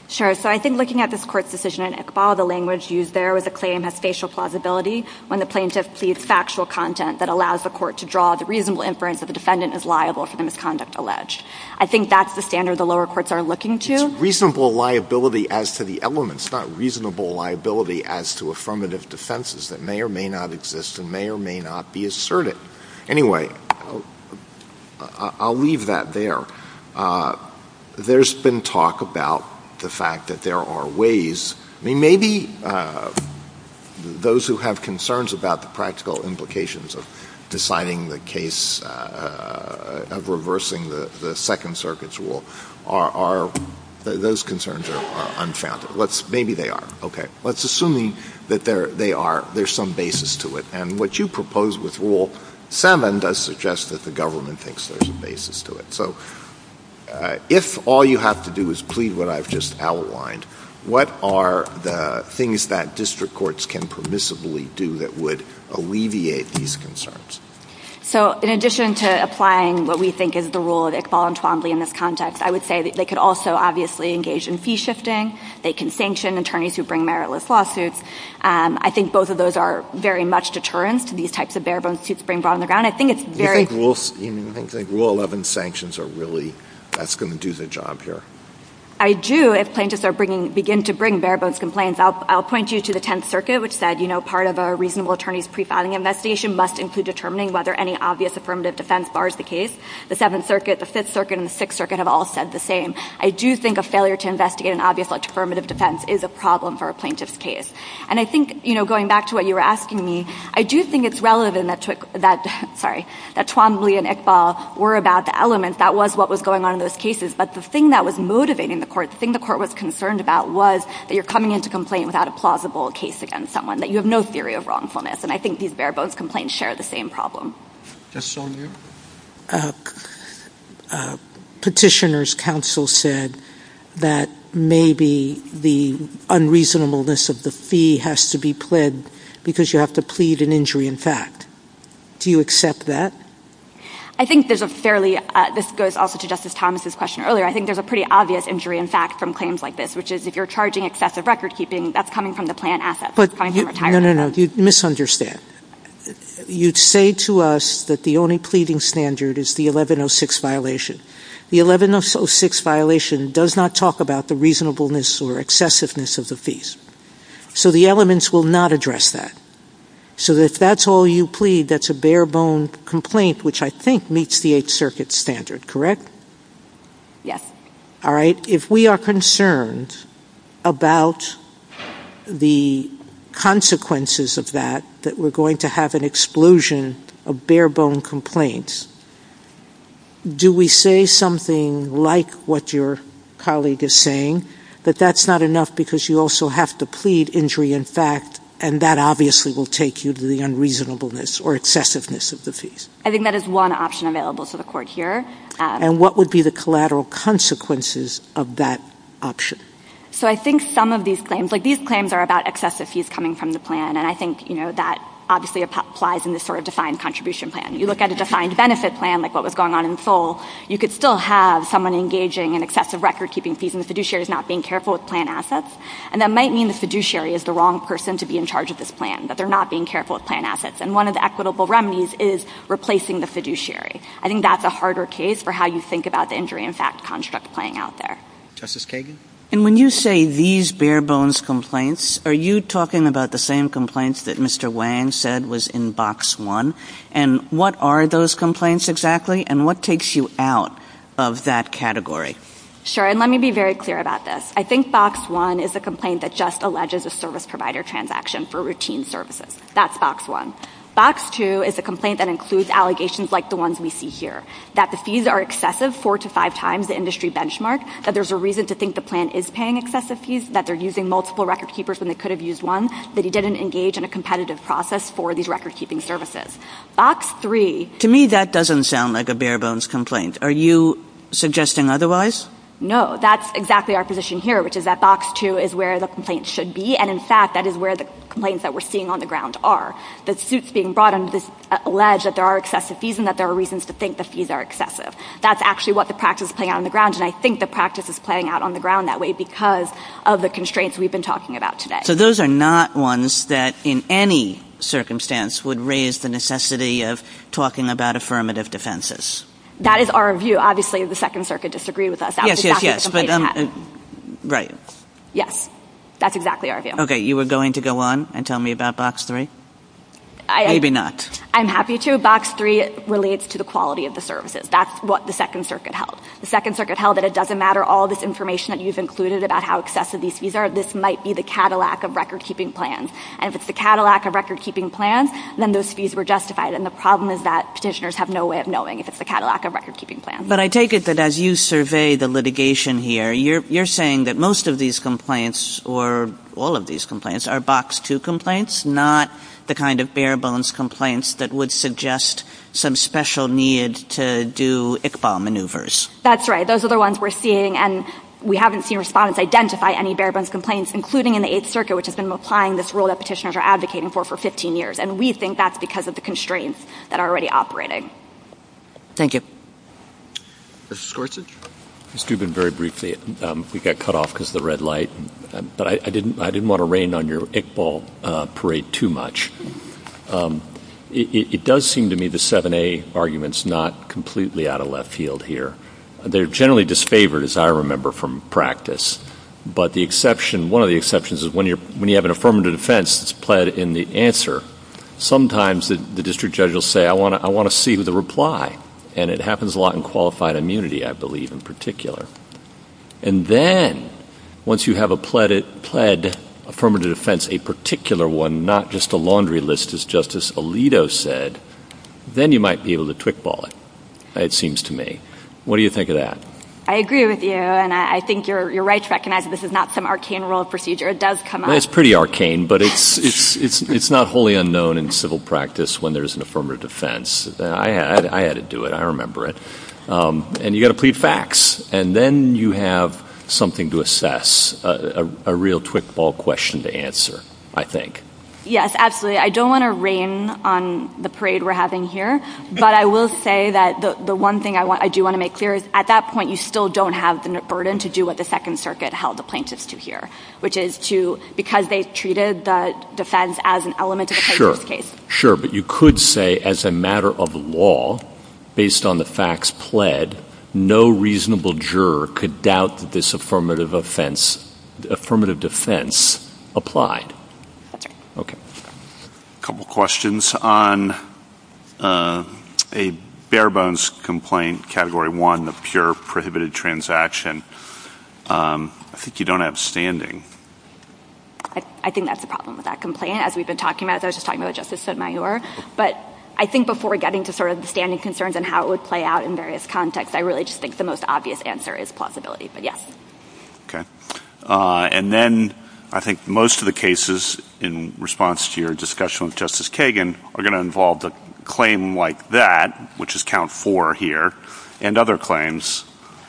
Sure, so I think looking at this court's decision in Iqbal, the language used there with the claim of spatial plausibility when the plaintiff sees factual content that allows the court to draw the reasonable inference that the defendant is liable for the misconduct alleged. I think that's the standard the lower courts are looking to. Reasonable liability as to the elements, not reasonable liability as to affirmative defenses that may or may not exist and may or may not be asserted. Anyway, I'll leave that there. There's been talk about the fact that there are ways, I mean maybe those who have concerns about the practical implications of deciding the case of reversing the Second Circuit's rule are, those concerns unfounded. Maybe they are. Okay, let's assume that there's some basis to it and what you propose with Rule 7 does suggest that the government thinks there's a basis to it. If all you have to do is plead what I've just outlined, what are the things that district courts can permissibly do that would alleviate these concerns? So, in addition to applying what we think is the rule of Iqbal and Twombly in this context, I would say that they could also, obviously, engage in fee shifting. They can sanction attorneys who bring meritless lawsuits. I think both of those are very much deterrent to these types of bare-bones suits being brought on the ground. I think it's very... Do you think Rule 11 sanctions are really going to do the job here? I do, if plaintiffs begin to bring bare-bones complaints. I'll point you to the Tenth Circuit, which said, you know, part of a reasonable attorney's pre-founding investigation must include determining whether any obvious affirmative defense bars the case. The Seventh Circuit, the Fifth Circuit, and the Sixth Circuit have all said the same. I do think a failure to investigate an obvious, like, affirmative defense is a problem for a plaintiff's case. And I think, you know, going back to what you were asking me, I do think it's relevant that Twombly and Iqbal were about the elements. That was what was going on in those cases. But the thing that was motivating the court, the thing the court was concerned about was that you're coming into complaint without a plausible case against someone, that you have no theory of wrongfulness. And I think these bare-bones complaints share the same problem. Just on your... Petitioner's counsel said that maybe the unreasonableness of the fee has to be pled because you have to plead an injury in fact. Do you accept that? I think there's a fairly... This goes off to Justice Thomas' question earlier. I think there's a pretty obvious injury in fact from claims like this, which is, if you're charging excessive record-keeping, that's coming from the planned assets. No, no, no. You misunderstand. You'd say to us that the only pleading standard is the 1106 violation. The 1106 violation does not talk about the reasonableness or excessiveness of the fees. So the elements will not address that. So if that's all you plead, that's a bare-bone complaint, which I think meets the Eighth Circuit standard, correct? Yes. All right. If we are concerned about the consequences of that, that we're going to have an explosion of bare-bone complaints, do we say something like what your colleague is saying, that that's not enough because you also have to plead injury in fact and that obviously will take you to the unreasonableness or excessiveness of the fees? I think that is one option available to the Court here. And what would be the collateral consequences of that option? So I think some of these claims, like these are about excessive fees coming from the plan. And I think, you know, that obviously applies in this sort of defined contribution plan. You look at a defined benefit plan, like what was going on in Seoul, you could still have someone engaging in excessive record-keeping fees and the fiduciary is not being careful with plan assets. And that might mean the fiduciary is the wrong person to be in charge of this plan, but they're not being careful with plan assets. And one of the equitable remedies is replacing the fiduciary. I think that's a harder case for how you think about the injury in fact construct playing out there. Justice Kagan? And when you say these bare-bones complaints, are you talking about the same complaints that Mr. Wang said was in Box 1? And what are those complaints exactly? And what takes you out of that category? Sure. And let me be very clear about this. I think Box 1 is a complaint that just alleges a service provider transaction for routine services. That's Box 1. Box 2 is a complaint that includes allegations like the ones we see here, that the fees are excessive four to five times the industry benchmark, that there's a reason to think the plan is paying excessive fees, that they're using multiple recordkeepers than they could have used one, that he didn't engage in a competitive process for these recordkeeping services. Box 3... To me, that doesn't sound like a bare-bones complaint. Are you suggesting otherwise? No. That's exactly our position here, which is that Box 2 is where the complaints should be. And in fact, that is where the complaints that we're seeing on the ground are. The suits being brought in just allege that there are excessive fees and that there are reasons to think the fees are excessive. That's actually what the practice is playing out on the ground, and I think the practice is playing out on the ground that way because of the constraints we've been talking about today. So those are not ones that in any circumstance would raise the necessity of talking about affirmative defenses. That is our view. Obviously, the Second Circuit disagrees with us. Yes, yes, yes. Right. Yes. That's exactly our view. Okay, you were going to go on and tell me about Box 3? Maybe not. I'm happy to. Box 3 relates to the quality of the services. That's what the Second Circuit held. The Second Circuit held that it doesn't matter all this information that you've included about how excessive these fees are. This might be the Cadillac of record-keeping plans. And if it's the Cadillac of record-keeping plans, then those fees were justified. And the problem is that petitioners have no way of knowing if it's the Cadillac of record-keeping plans. But I take it that as you survey the litigation here, you're saying that most of these complaints or all of these complaints are Box 2 complaints, not the kind of bare-bones complaints that would suggest some special need to do ICBAL maneuvers. That's right. Those are the ones we're seeing, and we haven't seen respondents identify any bare-bones complaints, including in the Eighth Circuit, which has been applying this rule that petitioners are advocating for for 15 years. And we think that's because of the constraints that are already operating. Thank you. Mr. Schwartz? Excuse me very briefly. We got cut off because of the red light. But I didn't want to rain on your ICBAL parade too much. It does seem to me the 7A argument's not completely out of left field here. They're generally disfavored, as I remember, from practice. But one of the exceptions is when you have an affirmative defense that's pled in the answer, sometimes the district judge will say, I want to see the reply. And it happens a lot in qualified immunity, I believe, in particular. And then once you have a pled affirmative defense, a particular one, not just a laundry list, as Justice Alito said, then you might be able to twickball it, it seems to me. What do you think of that? I agree with you, and I think your right to recognize that this is not some arcane rule of procedure. It does come up. It's pretty arcane, but it's not wholly unknown in civil practice when there's an affirmative defense. I had to do it. I remember it. And you've got to plead facts. And then you have something to assess, a real twickball question to answer, I think. Yes, absolutely. I don't want to rain on the parade we're having here, but I will say that the one thing I do want to make clear is at that point you still don't have the burden to do what the Second Circuit held the plaintiffs to hear, which is to, because they've treated the defense as an element of the case. Sure, but you could say as a matter of law, based on the facts pled, no reasonable juror could doubt that this affirmative offense, affirmative defense applied. Okay. A couple questions on a bare-bones complaint, Category 1, of pure prohibited transaction. I think you don't have standing. I think that's the problem with that complaint, as we've been talking about. I was just talking about Justice Sotomayor. But I think before getting to the standing concerns and how it would play out in various contexts, I really just think the most obvious answer is plausibility. But yeah. Okay. And then I think most of the cases in response to your discussion with Justice Kagan are going to involve the claim like that, which is Count 4 here, and other claims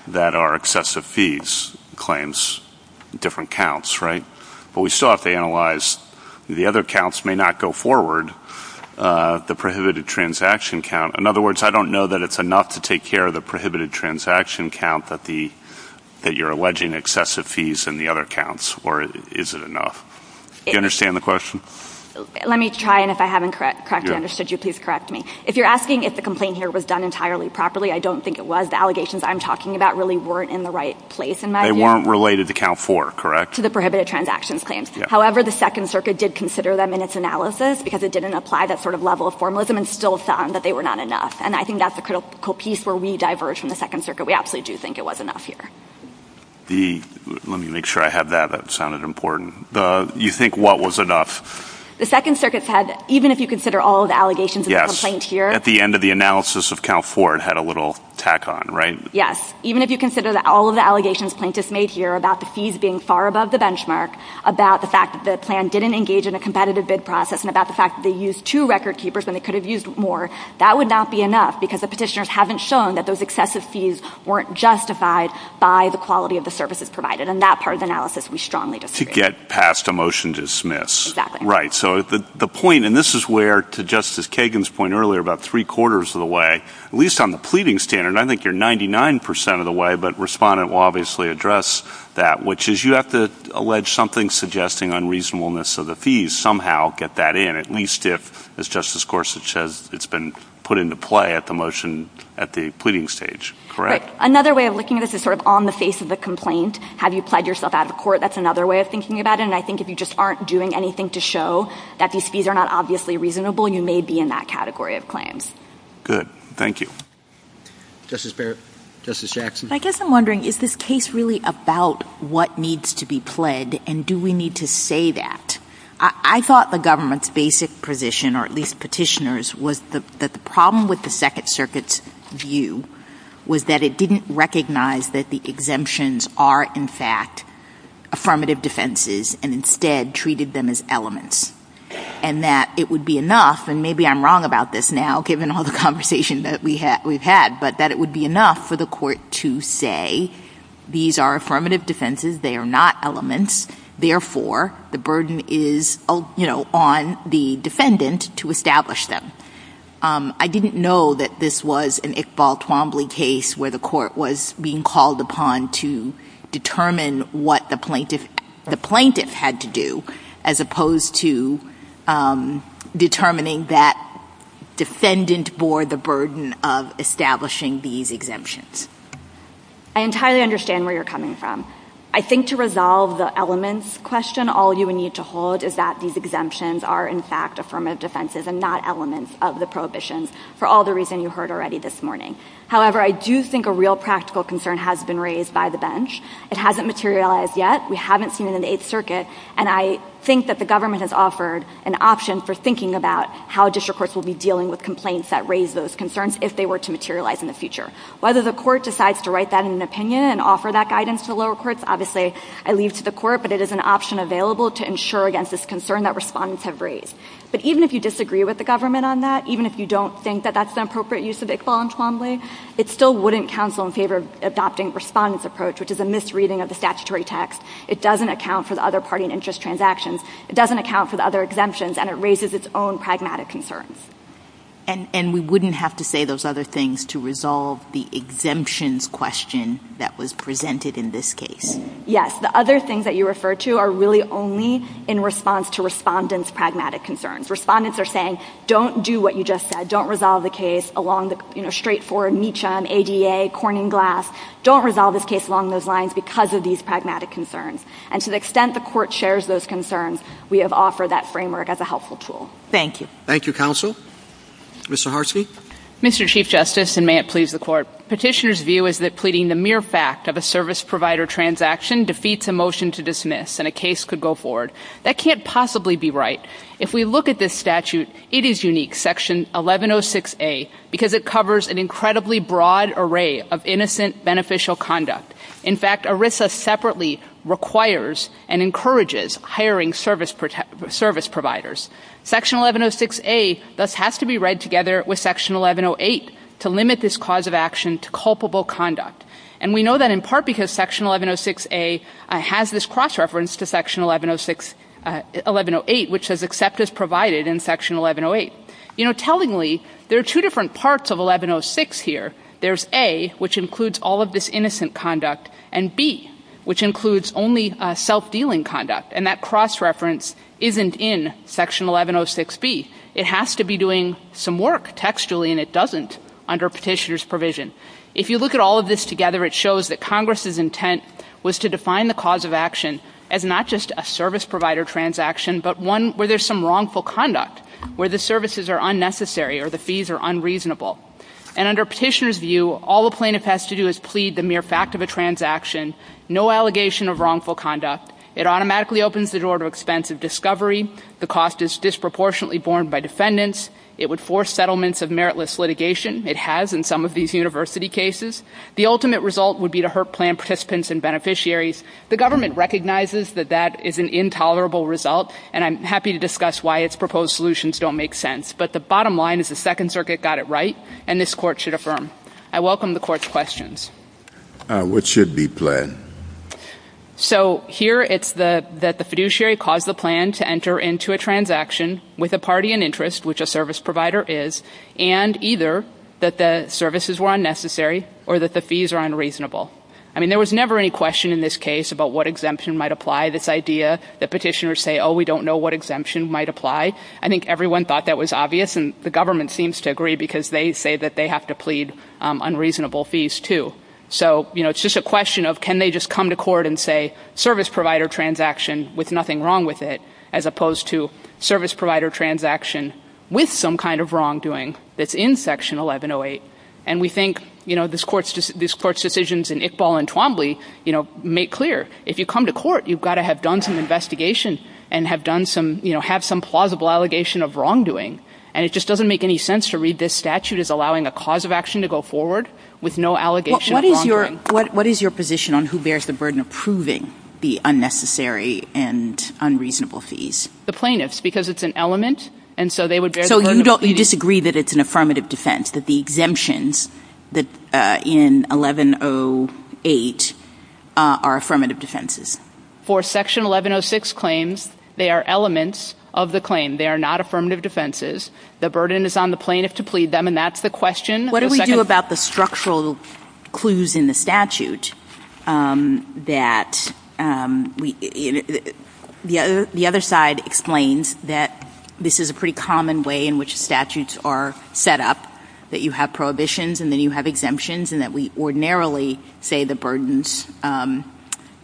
that are excessive fees claims, different counts, right? But we saw if they analyzed, the other counts may not go forward, the prohibited transaction count. In other words, I don't know that it's enough to take care of the prohibited transaction count that you're alleging excessive fees in the other counts, or is it enough? Do you understand the question? Let me try and if I haven't corrected you, please correct me. If you're asking if the complaint here was done entirely properly, I don't think it was. The allegations I'm talking about really weren't in the right place in my view. They weren't related to Count 4, correct? To the prohibited transaction claims. However, the Second Circuit did consider them in its analysis, because it didn't apply that sort of level of formalism and still found that they were not enough. And I think that's a critical piece where we diverge from the Second Circuit. We absolutely do think it was enough here. Let me make sure I have that. That sounded important. You think what was enough? The Second Circuit said even if you consider all of the allegations in the complaint here... At the end of the analysis of Count 4, it had a little tack on, right? Yes. Even if you consider that all of the allegations plaintiffs made here about the fees being far above the benchmark, about the fact that the plan didn't engage in a competitive bid process, and about the fact that they used two record keepers and they could have used more, that would not be enough, because the petitioners haven't shown that those excessive fees weren't justified by the quality of the services provided. In that part of the analysis, we strongly disagree. To get past a motion to dismiss. Exactly. Right. So the point, and this is where, to Justice Kagan's point earlier, about three-quarters of the way, at least on the pleading standard, I think you're 99% of the way, but respondent will obviously address that, which is you have to allege something suggesting unreasonableness of the fees and somehow get that in, at least if, as Justice Gorsuch says, it's been put into play at the motion at the pleading stage, correct? Another way of looking at this is sort of on the face of the complaint. Have you pled yourself out of court? That's another way of thinking about it, and I think if you just aren't doing anything to show that these fees are not obviously reasonable, you may be in that category of claims. Good. Thank you. Justice Barrett? Justice Jackson? I guess I'm wondering, is this case really about what needs to be pled, and do we need to say that? I thought the government's basic position, or at least petitioner's, was that the problem with the Second Circuit's view was that it didn't recognize that the exemptions are, in fact, affirmative defenses, and instead treated them as elements, and that it would be enough, and maybe I'm wrong about this now, given all the conversation that we've had, but that it would be enough for the court to say these are affirmative defenses, they are not elements, therefore the burden is on the defendant to establish them. I didn't know that this was an Iqbal Twombly case where the court was being called upon to determine what the plaintiff had to do, as opposed to determining that defendant bore the burden of establishing these exemptions. I entirely understand where you're coming from. I think to resolve the elements question, all you need to hold is that these exemptions are, in fact, affirmative defenses and not elements of the prohibitions, for all the reasons you heard already this morning. However, I do think a real practical concern has been raised by the bench. It hasn't materialized yet. We haven't seen it in the Eighth Circuit, and I think that the government has offered an option for thinking about how district courts will be dealing with complaints that raise those concerns if they were to materialize in the future. Whether the court decides to write that in an opinion and offer that guidance to lower courts, obviously, I leave to the court, but it is an option available to ensure against this concern that respondents have raised. But even if you disagree with the government on that, even if you don't think that that's an appropriate use of Iqbal and Twombly, it still wouldn't counsel in favor of adopting respondents' approach, which is a misreading of the statutory text. It doesn't account for the other party and interest transactions. It doesn't account for the other exemptions, and it raises its own pragmatic concerns. And we wouldn't have to say those other things to resolve the exemptions question that was presented in this case. Yes. The other things that you referred to are really only in response to respondents' pragmatic concerns. Respondents are saying, don't do what you just said. Don't resolve the case along the straightforward NICHON, ADA, Corning Glass. Don't resolve this case along those lines because of these pragmatic concerns. And to the extent the court shares those concerns, we have offered that framework as a helpful tool. Thank you. Thank you, counsel. Mr. Harsky? Mr. Chief Justice, and may it please the court, petitioner's view is that pleading the mere fact of a service provider transaction defeats a motion to dismiss and a case could go forward. That can't possibly be right. If we look at this statute, it is unique, section 1106A, because it covers an incredibly broad array of innocent beneficial conduct. In fact, ERISA separately requires and encourages hiring service providers. Section 1106A thus has to be read together with section 1108 to limit this cause of action to culpable conduct. And we know that in part because section 1106A has this cross-reference to section 1108, which says accept as provided in section 1108. You know, tellingly, there are two different parts of 1106 here. There's A, which includes all of this innocent conduct, and B, which includes only self-dealing conduct. And that cross-reference isn't in section 1106B. It has to be doing some work textually, and it doesn't under petitioner's provision. If you look at all of this together, it shows that Congress's intent was to define the cause of action as not just a service provider transaction, but one where there's some wrongful conduct, where the services are unnecessary or the fees are unreasonable. And under petitioner's view, all a plaintiff has to do is plead the mere fact of a transaction, no allegation of wrongful conduct. It automatically opens the door to expensive discovery. The cost is disproportionately borne by defendants. It would force settlements of meritless litigation. It has in some of these university cases. The ultimate result would be to hurt planned participants and beneficiaries. The government recognizes that that is an intolerable result, and I'm happy to discuss why its proposed solutions don't make sense. But the bottom line is the Second Circuit got it right, and this Court should affirm. I welcome the Court's questions. What should be planned? So here it's that the fiduciary caused the plan to enter into a transaction with a party in interest, which a service provider is, and either that the services were unnecessary or that the fees are unreasonable. I mean, there was never any question in this case about what exemption might apply, this idea that petitioners say, oh, we don't know what exemption might apply. I think everyone thought that was obvious, and the government seems to agree because they say that they have to plead unreasonable fees too. So, you know, it's just a question of can they just come to court and say service provider transaction with nothing wrong with it as opposed to service provider transaction with some kind of wrongdoing that's in section 1108. And we think, you know, this Court's decisions in Iqbal and Twombly, you know, make clear. If you come to court, you've got to have done some investigation and have done some, you know, have some plausible allegation of wrongdoing. And it just makes it easier for the laws of action to go forward with no allegations of wrongdoing. What is your position on who bears the burden of proving the unnecessary and unreasonable fees? The plaintiffs, because it's an element, and so they would bear the burden. So you disagree that it's an affirmative defense, that the exemptions in 1108 are affirmative defenses? For section 1106 claims, they are elements of the claim. They are not affirmative defenses. The burden is on the plaintiff to plead them, and that's the question What do we do about the structural clues in the statute that the other side explains that this is a pretty common way in which statutes are set up, that you have prohibitions and then you have exemptions, and that we ordinarily say the burdens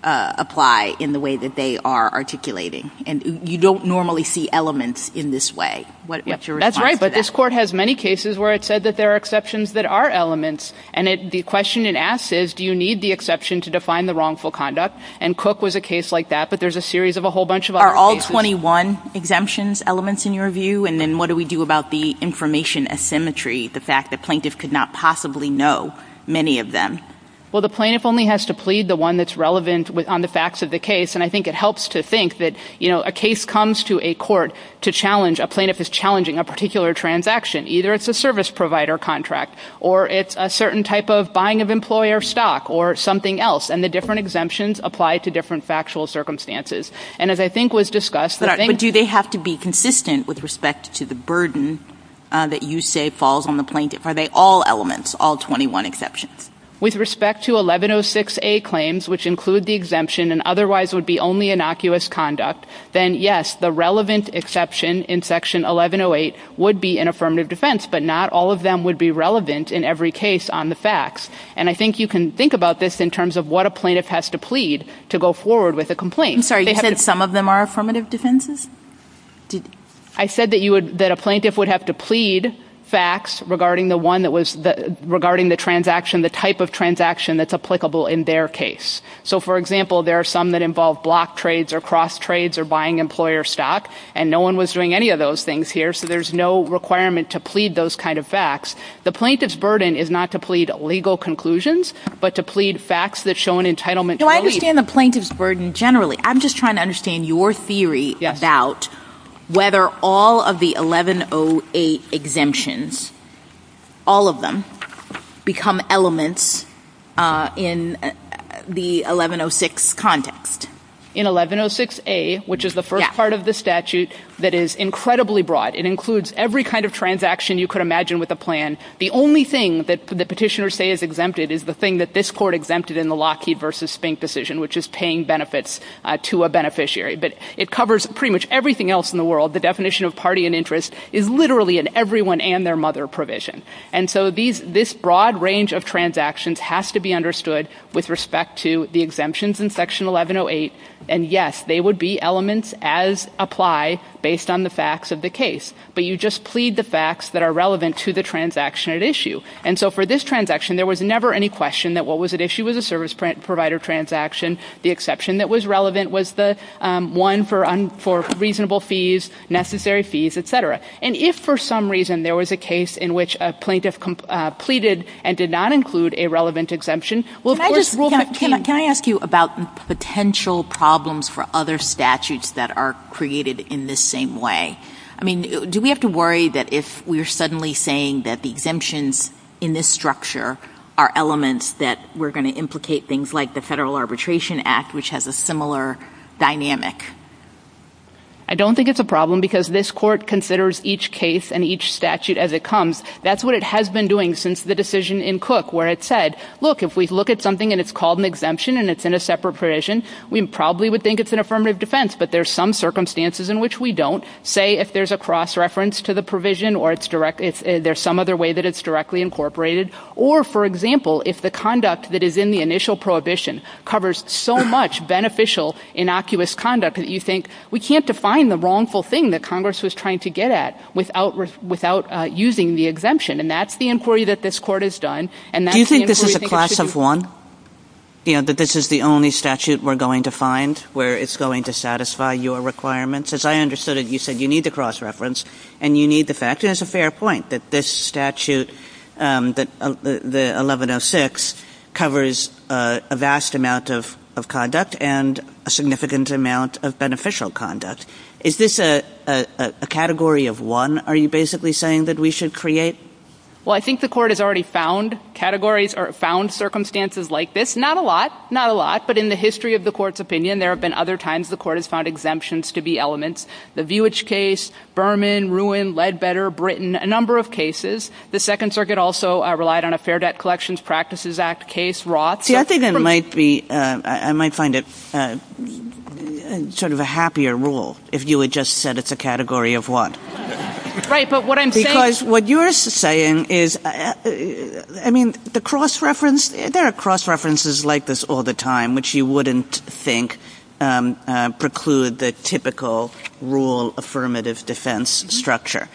apply in the way that they are articulating. And you don't normally see elements in this way. That's right, but this Court has many exceptions that are elements, and the question it asks is, do you need the exception to define the wrongful conduct? And Cook was a case like that, but there's a series of a whole bunch of other cases. Are all 21 exemptions elements in your view? And then what do we do about the information asymmetry, the fact that plaintiffs could not possibly know many of them? Well, the plaintiff only has to plead the one that's relevant on the facts of the case, and I think it helps to think that a case comes to a court to challenge, a plaintiff is challenging a particular transaction, either it's a service provider contract, or it's a certain type of buying of employer stock, or something else, and the different exemptions apply to different factual circumstances. And as I think was discussed... But do they have to be consistent with respect to the burden that you say falls on the plaintiff? Are they all elements, all 21 exceptions? With respect to 1106A claims, which include the exemption and otherwise would be only innocuous conduct, then yes, the relevant exception in section 1108 would be an affirmative defense, but not all of them would be relevant in every case on the facts. And I think you can think about this in terms of what a plaintiff has to plead to go forward with a complaint. I'm sorry, you said some of them are affirmative defenses? I said that a plaintiff would have to plead facts regarding the transaction, the type of transaction that's applicable in their case. So, for example, there are some that involve block trades or cross trades or buying employer stock, and no one was doing any of those things here, so there's no requirement to plead those kind of facts. The plaintiff's burden is not to plead legal conclusions, but to plead facts that show an entitlement... No, I understand the plaintiff's burden generally. I'm just trying to understand your theory about whether all of the 1108 exemptions, all of them, become elements in the 1106 context. In 1106A, which is the first part of the statute that is incredibly broad. It includes every kind of transaction you could imagine with a plan. The only thing that the petitioners say is exempted is the thing that this court exempted in the Lockheed v. Spink decision, which is paying benefits to a beneficiary. But it covers pretty much everything else in the world. The definition of party and interest is literally in everyone and their mother provision. And so this broad range of transactions has to be understood with respect to the exemptions in Section 1108. And yes, they would be elements as applied based on the facts of the case. But you just plead the facts that are relevant to the transaction at issue. And so for this transaction there was never any question that what was at issue was a service provider transaction. The exception that was relevant was the one for reasonable fees, necessary fees, etc. And if for some reason there was a case in which a plaintiff pleaded and did not include a relevant exemption, well, of course... Can I ask you about potential problems for other statutes that are created in this same way? I mean, do we have to worry that if we're suddenly saying that the exemptions in this structure are elements that we're going to implicate things like the Federal Arbitration Act, which has a similar dynamic? I don't think it's a problem because this court considers each case and each statute as it comes. That's what it has been doing since the decision in Cook where it said, look, if we look at something and it's called an exemption and it's in a separate provision, we probably would think it's an affirmative defense, but there's some circumstances in which we don't. Say if there's a cross-reference to the provision or there's some other way that it's directly incorporated. Or, for example, if the conduct that is in the initial prohibition covers so much beneficial, innocuous conduct that you think, we can't define the wrongful thing that Congress was trying to get at without using the exemption. And that's the inquiry that this court has done. Do you think this is a class of one? That this is the only statute we're going to find where it's going to satisfy your requirements? As I understood it, you said you need the cross-reference and you need the fact. And it's a fair point that this statute, the 1106, covers a vast amount of conduct and a significant amount of beneficial conduct. Is this a category of one are you basically saying that we should create? Well, I think the court has already found circumstances like this. Not a lot. Not a lot. But in the history of the court's opinion, there have been other times the court has found exemptions to be elements. The Vuitch case, Berman, Ruin, Ledbetter, Britton, a number of cases. The Second Circuit also relied on a Fair Debt Collections Practices Act case. See, I think I might find it sort of a happier rule if you had just said it's a category of one. what you're saying is I mean, the cross-reference there are cross-references like this all the time, which you wouldn't think preclude the typical rule affirmative defense structure.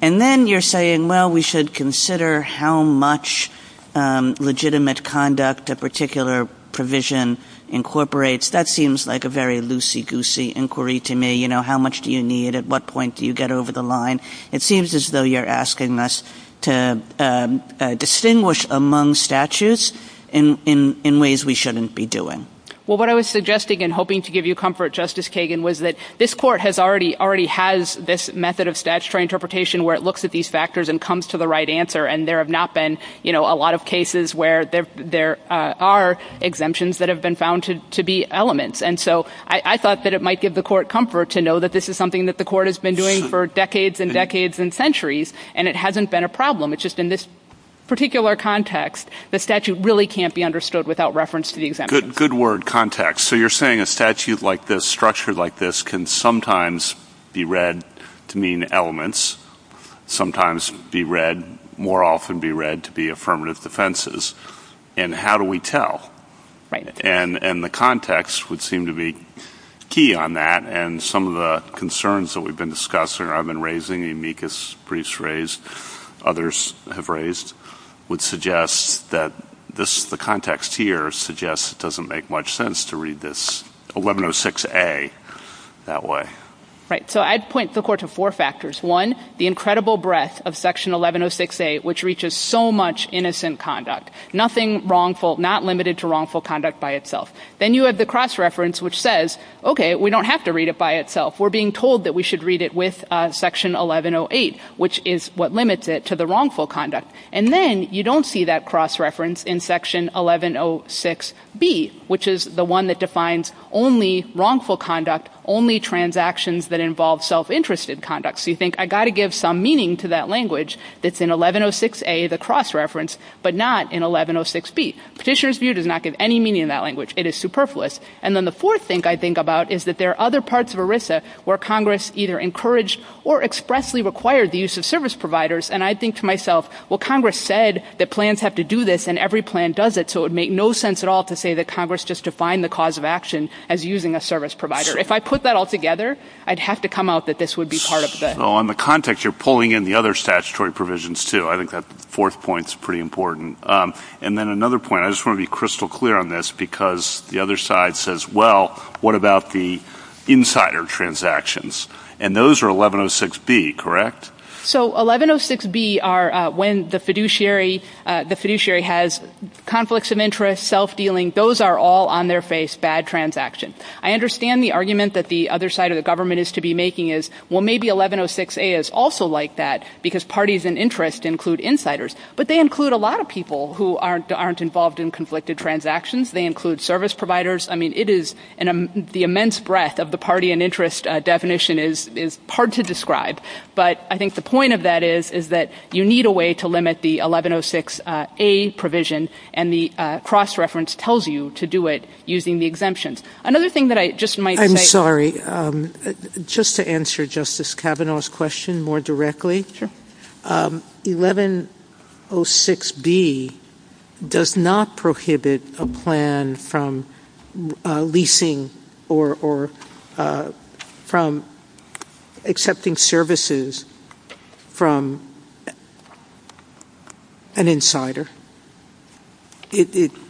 And then you're saying, well, we should consider how much legitimate conduct a particular provision incorporates. That seems like a very loosey-goosey inquiry to me. How much do you need? At what point do you get over the line? It seems as though you're asking us to distinguish among statutes in ways we shouldn't be doing. Well, what I was suggesting and hoping to give you comfort, Justice Kagan, was that this court already has this method of statutory interpretation where it looks at these factors and comes to the right answer. And there have not been a lot of cases where there are exemptions that have been found to be elements. And so I thought that it might give the court comfort to know that this is something that the court has been doing for decades and decades and centuries and it hasn't been a problem. It's just in this particular context, the statute really can't be understood without reference to the exemptions. Good word, context. So you're saying a statute like this, structured like this, can sometimes be read to mean elements, sometimes be read, more often be read to be affirmative defenses. And how do we tell? And the context would seem to be key on that. And some of the concerns that we've been discussing or I've been raising, the amicus briefs raised, others have raised, would suggest that the context here suggests it doesn't make much sense to read this 1106A that way. Right. So I'd point the court to four factors. One, the incredible breadth of Section 1106A, which reaches so much deeper than that. You have the cross reference which says, okay, we don't have to read it by itself. We're being told that we should read it with Section 1108, which is what limits it to the wrongful conduct. And then you don't see that cross reference in Section 1106B, which is the one that defines only wrongful conduct, only transactions that involve self-interested conduct. So you think, I've got to give some meaning to that language that's in 1106A, which is a cross reference, but not in 1106B. Petitioner's view does not give any meaning to that language. It is superfluous. And then the fourth thing I think about is that there are other parts of ERISA where Congress either encouraged or expressly required the use of service providers, and I think to myself, well, Congress said that plans have to do this, and every plan does it, so it would make no sense at all to say that Congress just defined the cause of action as using a service provider. If I put that all together, I'd have to come out that this would be part of the... Well, on the context, you're pulling in the other statutory provisions, too. I think that fourth point's pretty important. And then another point, I just want to be crystal clear on this, because the other side says, well, what about the insider transactions? And those are 1106B, correct? So 1106B are when the fiduciary has conflicts in interest, self-dealing, those are all on their face, bad transactions. I understand the argument that the other side of the government is to be making is, well, maybe 1106A is also like that, because parties in interest include insiders. But they include a lot of people who aren't involved in conflicted transactions. They include service providers. I mean, it is... The immense breadth of the party in interest definition is hard to describe, but I think the point of that is that you need a way to limit the 1106A provision, and the cross-reference tells you to do it using the exemptions. Another thing that I just might say... I'm sorry. Just to answer Justice Kavanaugh's question more directly, 1106B does not prohibit a plan from leasing or from accepting services from an insider.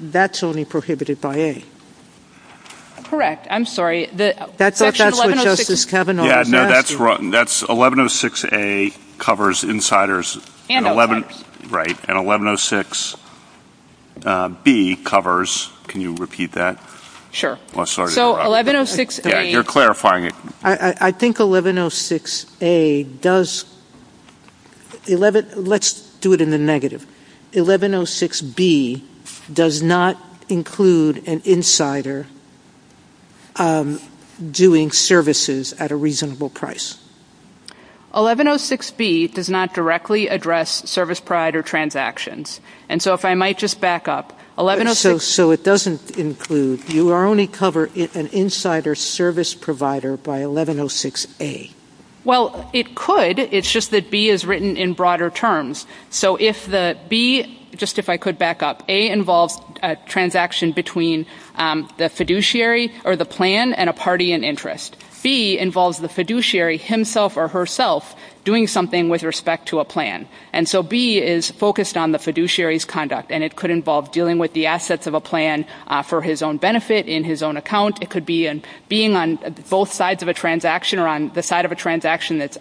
That's only prohibited by A. Correct. I'm sorry. That's what Justice Kavanaugh was asking. 1106A covers insiders... Right. And 1106 B covers... Can you repeat that? Sure. So, 1106A... You're clarifying it. I think 1106A does... Let's do it in the negative. 1106B does not include an insider doing services at a reasonable price. 1106B does not directly address service provider transactions. So, if I might just back up... So, it doesn't include... You only cover an insider service provider by 1106A. Well, it could. It's just that B is written in broader terms. So, if the B... Just if I could back up. A involves a transaction between the fiduciary or the plan and a party in interest. B involves the fiduciary himself or herself doing something with respect to a plan. And so, B is focused on the fiduciary's conduct, and it could involve dealing with the assets of a plan for his own benefit, in his own account. It could be being on both sides of a transaction or on the side of a transaction that's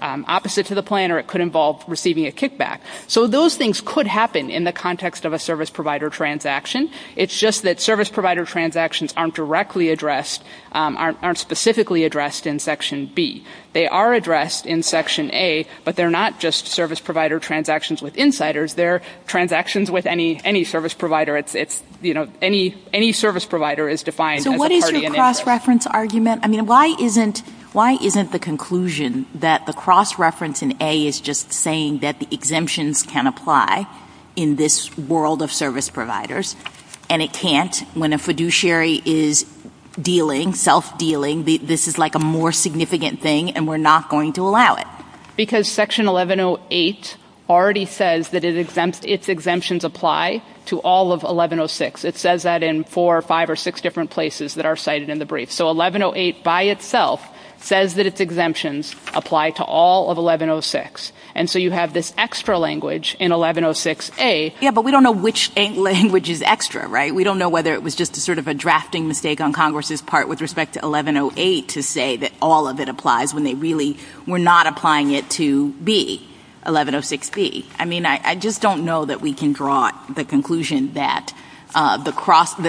involved receiving a kickback. So, those things could happen in the context of a service provider transaction. It's just that service provider transactions aren't directly addressed, aren't specifically addressed in section B. They are addressed in section A, but they're not just service provider transactions with insiders. They're transactions with any service provider. It's, you know, any service provider is defined as a party in interest. So, what is your cross-reference argument? I mean, why isn't the conclusion that the cross-reference in A is just saying that the exemptions can apply in this world of service providers, and it can't when a fiduciary is dealing, self-dealing. This is, like, a more significant thing, and we're not going to allow it. Because section 1108 already says that its exemptions apply to all of 1106. It says that in four or five or six different places that are cited in the brief. So, 1108 by itself says that its exemptions apply to all of 1106. And so you have this extra language in 1106A. Yeah, but we don't know which language is extra, right? We don't know whether it was just sort of a drafting mistake on Congress's part with respect to 1108 to say that all of it applies when they really were not applying it to B, 1106B. I mean, I just don't know that we can draw the conclusion that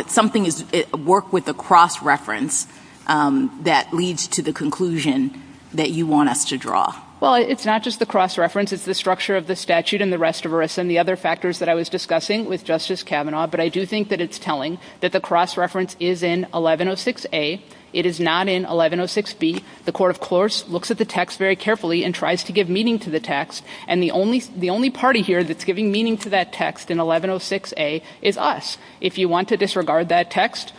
something is work with a cross-reference that leads to the conclusion that you want us to draw. Well, it's not just the cross-reference. It's the structure of the statute and the rest of it, and the other factors that I was discussing with Justice Kavanaugh. But I do think that it's telling that the cross-reference is in 1106A. It is not in 1106B. The court, of course, looks at the text very carefully and tries to give meaning to the text. And the only party here that's giving meaning to that text in 1106A is us. If you want to disregard that text,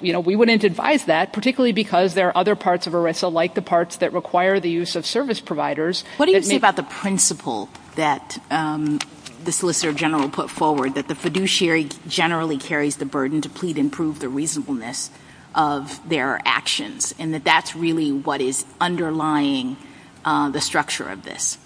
we wouldn't advise that, particularly because there are other parts of ERISA, like the parts that require the use of service providers. What do you think about the principle that the Solicitor General put forward, that the fiduciary generally carries the burden to plead and prove the reasonableness of their actions, and that that's really what is underlying the structure of this?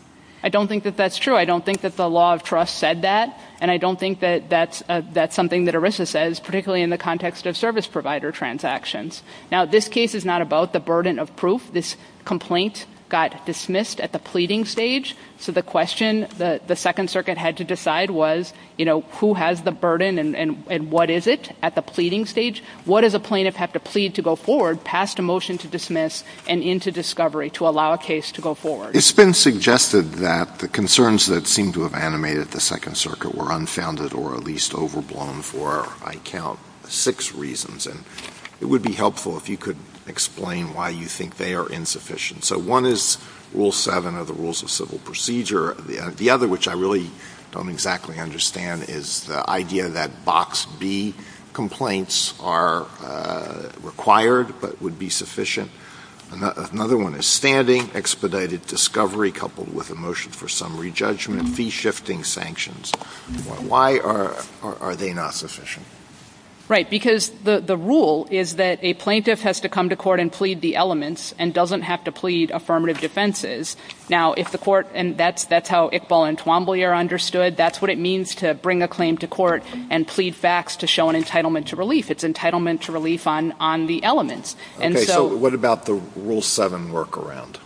I don't think that that's true. I don't think that the law of trust said that, and I don't think that that's something that ERISA says, particularly in the context of service provider transactions. Now, this case is not about the burden of proof. This complaint got dismissed at the pleading stage, so the question the Second Circuit had to decide was, you know, who has the burden and what is it at the pleading stage? What does a plaintiff have to plead to go forward past a motion to dismiss and into discovery to allow a case to go forward? It's been suggested that the concerns that seem to have animated the Second Circuit were unfounded or at least overblown for, I count, six reasons, and it would be helpful if you could explain why you think they are insufficient. So one is Rule 7 of the Rules of Civil Procedure. The other, which I really don't exactly understand, is the idea that Box B complaints are required but would be sufficient. Another one is standing expedited discovery coupled with a motion for summary judgment, fee-shifting sanctions. Why are they not sufficient? Right, because the rule is that a plaintiff has to come to court and plead the elements and doesn't have to plead affirmative defenses. Now, if the court, and that's how Iqbal and Twombly are understood, that's what it means to bring a claim to court and plead facts to show an entitlement to relief. It's entitlement to relief on the elements. Okay, so what about the Rule 7 workaround?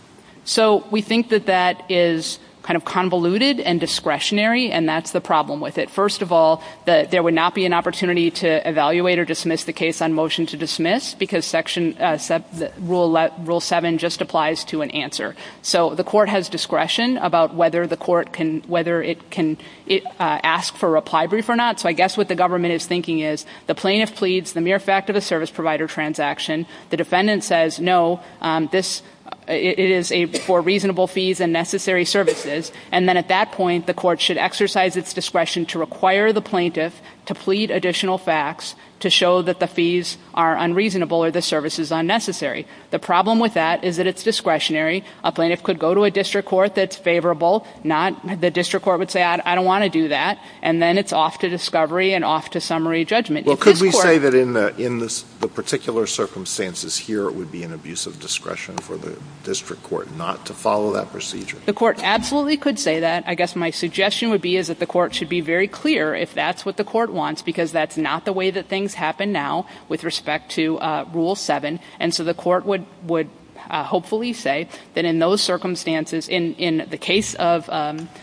So we think that that is kind of convoluted and discretionary and that's the problem with it. First of all, there would not be an opportunity to evaluate or dismiss the case on motion to dismiss because Rule 7 just applies to an answer. So the court has discretion about whether the court can ask for a reply brief or not. So I guess what the government is thinking is, the plaintiff pleads the mere fact of the service provider transaction, the defendant says, no, it is for reasonable fees and necessary services, and then at that point, the court should exercise its discretion to require the plaintiff to plead additional facts to show that the fees are unreasonable or the service is unnecessary. The problem with that is that it's discretionary. A plaintiff could go to a district court that's favorable. The district court would say, I don't want to do that. And then it's off to discovery and off to summary judgment. Well, could we say that in the particular circumstances here, it would be an abuse of discretion for the district court not to follow that procedure? The court absolutely could say that. I guess my suggestion would be is that the court should be very clear if that's what the court wants because that's not the way that things happen now with respect to Rule 7. And so the court would hopefully say that in those circumstances, in the case of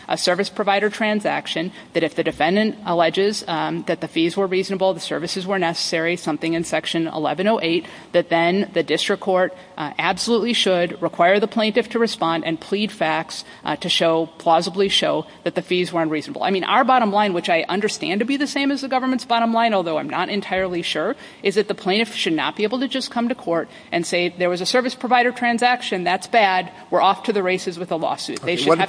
a service provider transaction, that if the defendant alleges that the fees were reasonable, the services were necessary, something in Section 1108, that then the district court absolutely should require the plaintiff to respond and plead facts to show, plausibly show, that the fees were unreasonable. Our bottom line, which I understand to be the same as the government's bottom line, although I'm not entirely sure, is that the plaintiff should not be able to just come to court and say there was a service provider transaction, that's bad, we're off to the races with a lawsuit. What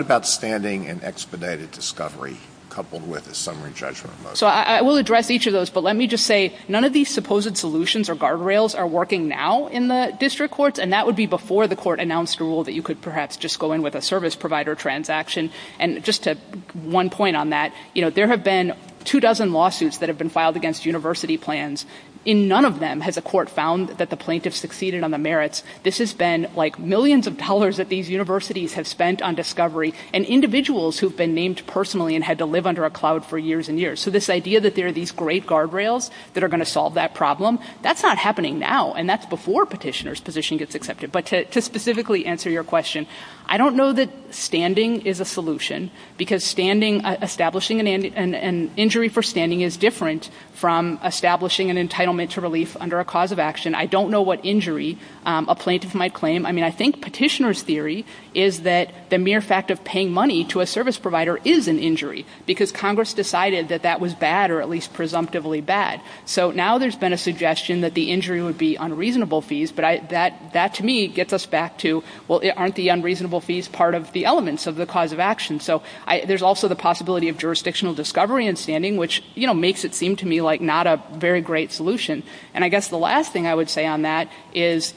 about standing and expedited discovery coupled with a summary judgment? I will address each of those, but let me just say, none of these supposed solutions or guardrails are working now in the district courts, and that would be before the court announced a rule that you could perhaps just go in with a service provider transaction. And just to one point on that, you know, there have been two dozen lawsuits that have been filed against university plans. In none of them had the court found that the plaintiff succeeded on the merits. This has been like millions of dollars that these universities have spent on discovery, and individuals who've been named personally and had to live under a cloud for years and years. So this idea that there are these great guardrails that are going to solve that problem, that's not happening now, and that's before petitioner's position gets accepted. But to specifically answer your question, I don't know that standing is a solution, because establishing an injury for standing is different from establishing an entitlement to relief under a cause of action. I don't know what injury a plaintiff might claim. I mean, I think petitioner's theory is that the mere fact of paying money to a service provider is an injury, because Congress decided that that was bad, or at least presumptively bad. So now there's been a suggestion that the injury would be unreasonable fees, but that to me gets us back to, well, aren't the unreasonable fees part of the elements of the cause of action? So there's also the possibility of jurisdictional discovery in standing, which makes it seem to me like not a very great solution. And I guess the last thing I would say on that is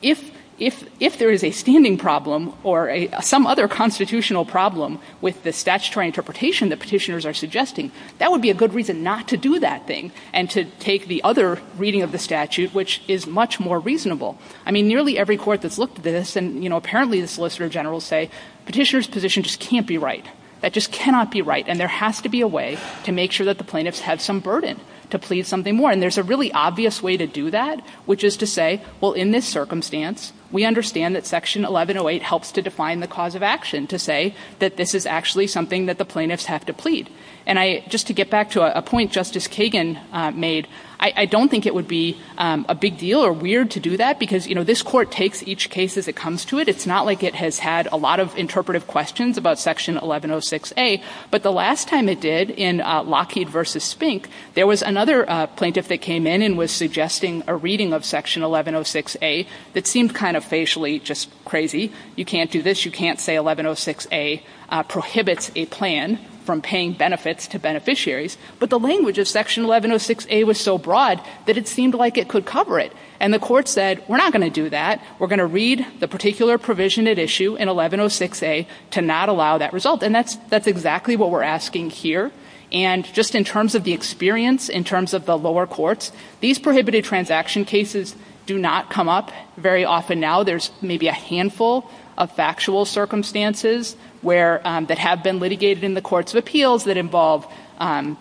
if there is a standing problem or some other constitutional problem with the statutory interpretation that petitioners are suggesting, that would be a good reason not to do that thing and to take the other reading of the statute, which is much more reasonable. I mean, nearly every court that's looked at this, and, you know, apparently the solicitor generals say, petitioner's position just can't be right. That just cannot be right, and there has to be a way to make sure that the plaintiffs have some burden to please something more. And there's a really obvious way to do that, which is to say, well, in this circumstance, we understand that Section 1108 helps to define the statute, but this is actually something that the plaintiffs have to plead. And I, just to get back to a point Justice Kagan made, I don't think it would be a big deal or weird to do that, because, you know, this court takes each case as it comes to it. It's not like it has had a lot of interpretive questions about Section 1106A, but the last time it did in Lockheed v. Spink, there was another plaintiff that came in and was suggesting a reading of Section 1106A that seemed kind of facially just crazy. You can't do this. You can't say 1106A prohibits a plan from paying benefits to beneficiaries. But the language of Section 1106A was so broad that it seemed like it could cover it. And the court said, we're not going to do that. We're going to read the particular provision at issue in 1106A to not allow that result. And that's exactly what we're asking here. And just in terms of the experience, in terms of the lower courts, these prohibited transaction cases do not come up very often now. There's maybe a handful of factual circumstances that have been litigated in the Courts of Appeals that involve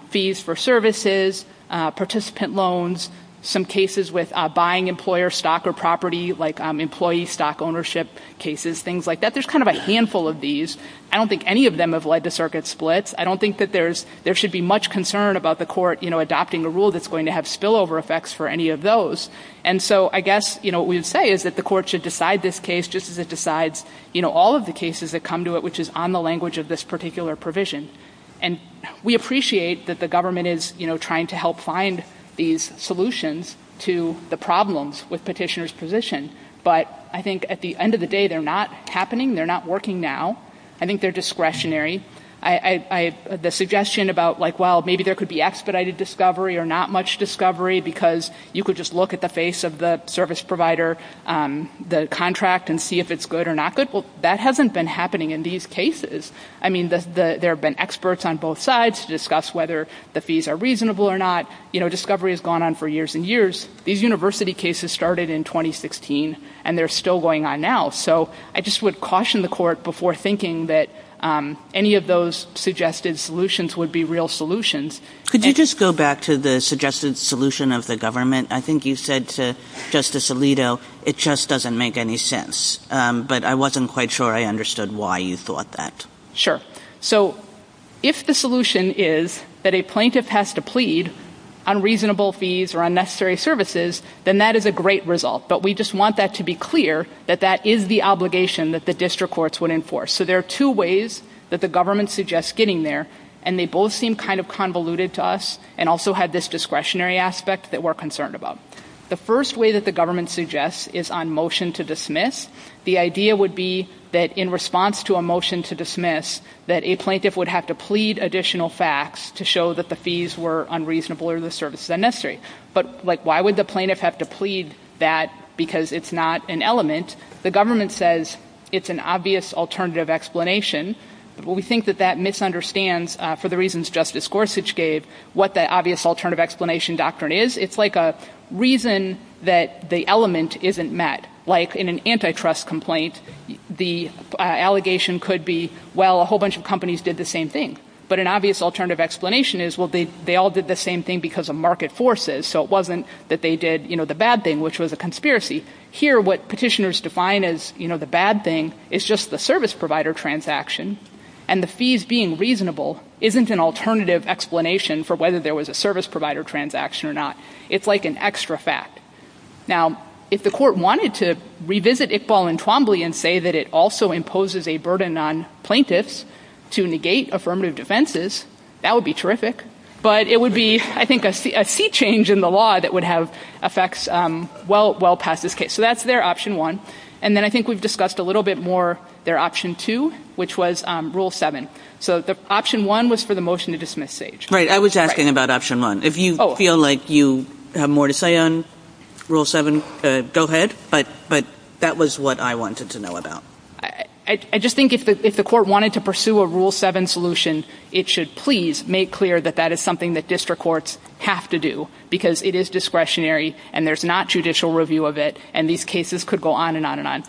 fees for services, participant loans, some cases with buying employer stock or property, like employee stock ownership cases, things like that. There's kind of a handful of these. I don't think any of them have led to circuit splits. I don't think that there should be much concern about the court adopting a rule that's going to have spillover effects for any of those. And so I guess what we would say is that the court should decide this case just as it decides all of the cases that come to it which is on the language of this particular provision. And we appreciate that the government is trying to help find these solutions to the problems with petitioner's position. But I think at the end of the day, they're not happening. They're not working now. I think they're discretionary. The suggestion about, well, maybe there could be expedited discovery or not much discovery because you could just look at the face of the service provider, the contract, and see if it's good or not good, well, that hasn't been happening in these cases. I mean, there have been experts on both sides to discuss whether the fees are reasonable or not. Discovery has gone on for years and years. These university cases started in 2016, and they're still going on now. So I just would caution the court before thinking that any of those suggested solutions would be real solutions. Could you just go back to the suggested solution of the government? I think you said to Justice Alito, it just doesn't make any sense. But I wasn't quite sure I understood why you thought that. Sure. So if the solution is that a plaintiff has to plead on reasonable fees or unnecessary services, then that is a great result. But we just want that to be clear that that is the obligation that the district courts would enforce. So there are two ways that the government suggests getting there, and they both seem kind of convoluted to us and also have this discretionary aspect that we're concerned about. The first way that the government suggests is on motion to dismiss. The idea would be that in response to a motion to dismiss, that a plaintiff would have to plead additional facts to show that the fees were unreasonable or the services unnecessary. But why would the plaintiff have to plead that because it's not an element? The government says it's an obvious alternative explanation. We think that that misunderstands, for the reasons Justice Gorsuch gave, what the obvious alternative explanation doctrine is. It's like a reason that the element isn't met. Like in an antitrust complaint, the allegation could be, well, a whole bunch of companies did the same thing. But an obvious alternative explanation is, well, they all did the same thing because of market forces, so it wasn't that they did the bad thing, which was a conspiracy. Here, what petitioners define as the bad thing is just the service provider transaction, and the fees being reasonable isn't an alternative explanation for whether there was a service provider transaction or not. It's like an extra fact. Now, if the court wanted to revisit Iqbal and Twombly and say that it also imposes a burden on plaintiffs to negate affirmative defenses, that would be terrific. But it would be, I think, a sea change in the law that would have effects well past this case. So that's there, option one. And then I think we've discussed a little bit more their option two, which was rule seven. So option one was for the motion to dismiss Sage. Right. I was asking about option one. If you feel like you have more to say on rule seven, go ahead. But that was what I wanted to know about. I just think if the court wanted to pursue a rule seven solution, it should please make clear that that is something that district courts have to do because it is discretionary and there's not judicial review of it, and these cases could go on and on and on.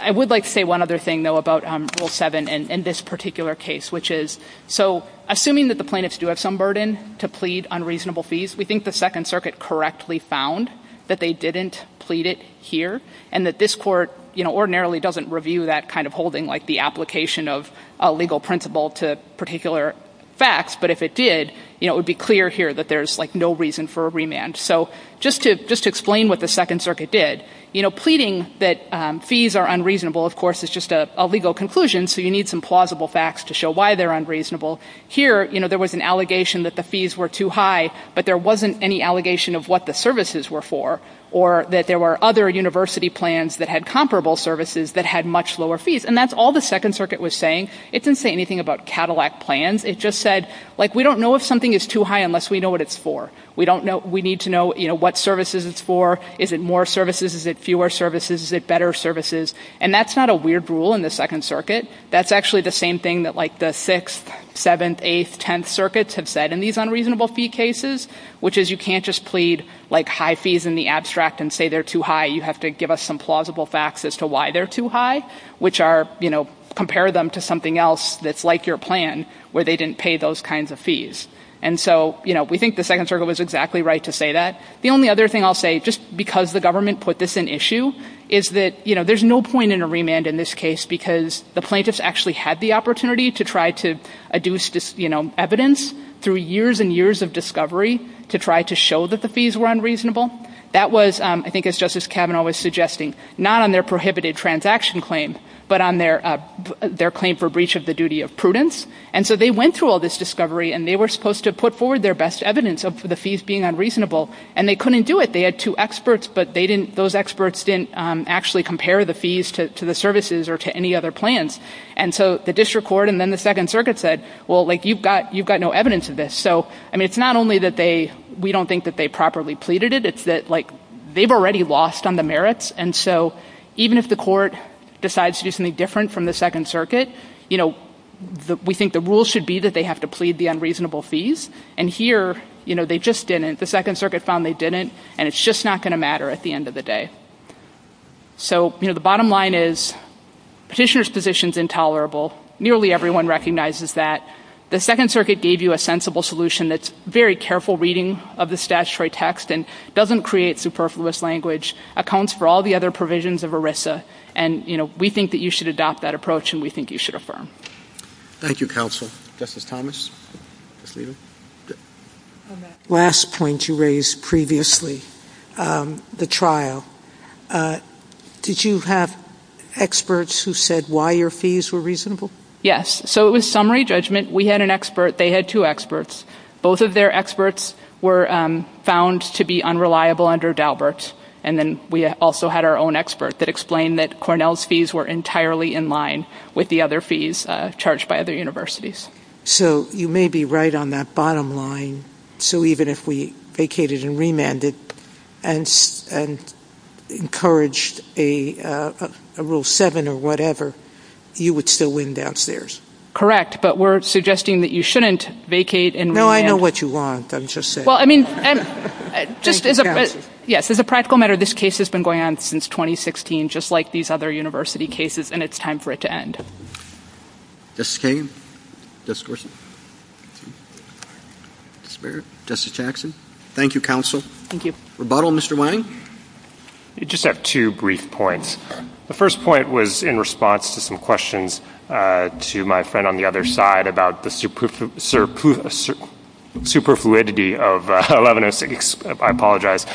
I would like to say one other thing, though, about rule seven and this particular case, which is, so assuming that the plaintiffs do have some burden to plead on reasonable fees, we think the Second Circuit correctly found that they didn't plead it here and that this court ordinarily doesn't review that kind of holding, like the application of a legal principle to particular facts, but if it did, it would be clear here that there's no reason for a remand. So just to explain what the Second Circuit did, pleading that fees are unreasonable, of course, is just a legal conclusion, so you need some plausible facts to show why they're unreasonable. Here, there was an allegation that the fees were too high, but there wasn't any allegation of what the services were for or that there were other university plans that had comparable services that had much lower fees, and that's all the Second Circuit was saying. It didn't say anything about Cadillac plans. It just said, like, we don't know if something is too high unless we know what it's for. We need to know what services it's for. Is it more services? Is it fewer services? Is it better services? And that's not a weird rule in the Second Circuit. That's actually the same thing that, like, the 6th, 7th, 8th, 10th circuits have said in these unreasonable fee cases, which is you can't just plead, like, high fees in the abstract and say they're too high. You have to give us some plausible facts as to why they're too high, which are, you know, compare them to something else that's like your plan where they didn't pay those kinds of fees. And so, you know, we think the Second Circuit was exactly right to say that. The only other thing I'll say, just because the government put this in issue, is that, you know, there's no point in a remand in this case because the plaintiffs actually had the opportunity to try to adduce, you know, evidence through years and years of discovery to try to show that the fees were unreasonable. That was, I think as Justice Kavanaugh was suggesting, not on their prohibited transaction claim, but on their claim for breach of the duty of prudence. And so they went through all this discovery, and they were supposed to put forward their best evidence of the fees being unreasonable, and they couldn't do it. They had two experts, but those experts didn't actually compare the fees to the services or to any other plans. And so the District Court and then the Second Circuit said, well, like, you've got no evidence of this. So, I mean, it's not only that we don't think that they properly pleaded it, it's that, like, they've already lost on the merits, and so even if the court decides to do something different from the Second Circuit, you know, we think the rule should be that they have to plead the unreasonable fees, and here, you know, they just didn't. The Second Circuit found they didn't, and it's just not going to matter at the end of the day. So, you know, the bottom line is Petitioner's position is intolerable. Nearly everyone recognizes that. The Second Circuit gave you a sensible solution that's very careful reading of the statutory text and doesn't create superfluous language, accounts for all the other provisions of ERISA, and, you know, we think that you should adopt that approach, and we think you should affirm. Thank you, Counsel. Justice Thomas? On that last point you raised previously, the trial, did you have experts who said why your fees were reasonable? Yes. So it was summary judgment. We had an expert. They had two experts. Both of their experts were found to be unreliable under Daubert's, and then we also had our own expert that explained that Cornell's fees were entirely in line with the other fees charged by other universities. So you may be right on that bottom line. So even if we vacated and remanded and encouraged a Rule 7 or whatever, you would still win downstairs. Correct, but we're suggesting that you shouldn't vacate and remand. No, I know what you want, I'm just saying. Well, I mean, as a practical matter, this case has been going on since 2016, just like these other university cases, and it's time for it to end. Thank you, Counsel. Rebuttal, Mr. Lange? I just have two brief points. The first point was in response to some questions to my friend on the other side about the superfluidity of 1106A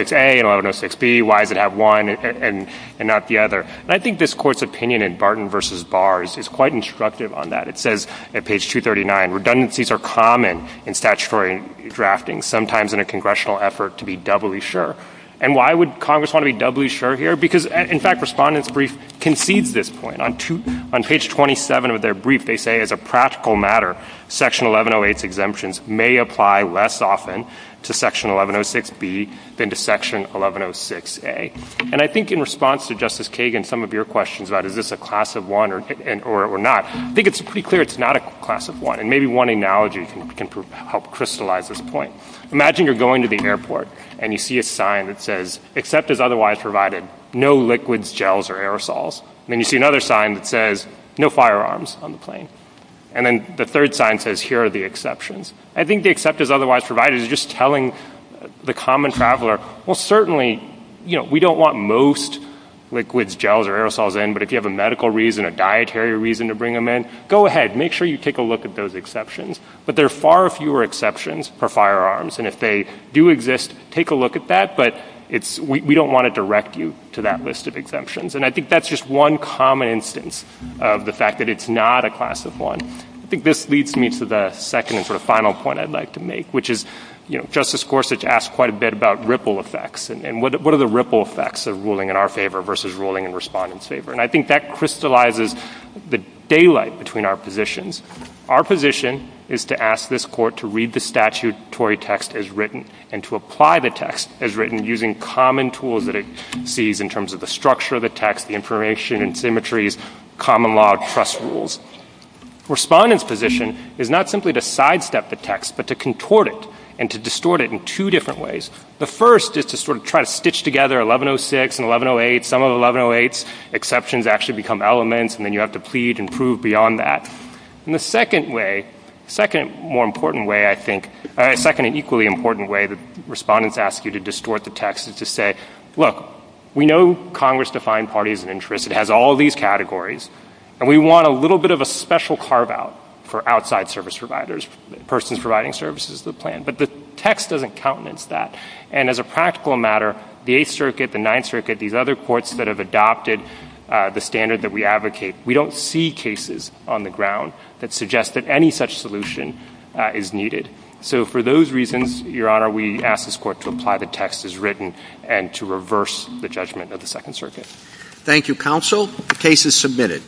and 1106B. Why does it have one and not the other? And I think this Court's opinion in Barton v. Bars is quite instructive on that. It says at page 239, redundancies are common in statutory drafting, sometimes in a congressional effort to be doubly sure. And why would Congress want to be doubly sure here? Because, in fact, Respondent's Brief concedes this point. On page 27 of their rebuttal, it says, as a practical matter, Section 1108's exemptions may apply less often to Section 1106B than to Section 1106A. And I think in response to Justice Kagan, some of your questions about is this a class of one or not, I think it's pretty clear it's not a class of one, and maybe one analogy can help crystallize this point. Imagine you're going to the airport, and you see a sign that says, except as otherwise provided, no liquids, gels, or aerosols. And then you see another sign that says, no firearms on the plane. And then the third sign says, here are the exceptions. I think the except as otherwise provided is just telling the common traveler, well, certainly we don't want most liquids, gels, or aerosols in, but if you have a medical reason, a dietary reason to bring them in, go ahead, make sure you take a look at those exceptions. But there are far fewer exceptions for firearms, and if they do exist, take a look at that, but we don't want to direct you to that list of exemptions. And I think that's just one common instance of the fact that it's not a class of one. I think this leads me to the second and sort of final point I'd like to make, which is, you know, Justice Gorsuch asked quite a bit about ripple effects, and what are the ripple effects of ruling in our favor versus ruling in Respondent's favor? And I think that crystallizes the daylight between our positions. Our position is to ask this Court to read the statutory text as written, and to apply the text as written, using common tools that it sees in terms of the structure of the text, the information and symmetries, common law, trust rules. Respondent's position is not simply to sidestep the text, but to contort it and to distort it in two different ways. The first is to sort of try to stitch together 1106 and 1108. Some of the 1108's exceptions actually become elements, and then you have to plead and prove beyond that. And the second way, second more important way, I think, second and equally important way that Respondents ask you to distort the text is to say, look, we know Congress defined parties of interest. It has all these categories, and we want a little bit of a special carve-out for outside service providers, persons providing services to the plan. But the text doesn't countenance that. And as a practical matter, the Eighth Circuit, the Ninth Circuit, these other courts that have adopted the standard that we advocate, we don't see cases on the ground that suggest that any such solution is needed. So for those reasons, Your Honor, we ask this Court to apply the text as written and to reverse the judgment of the Second Circuit. Thank you, Counsel. The case is submitted.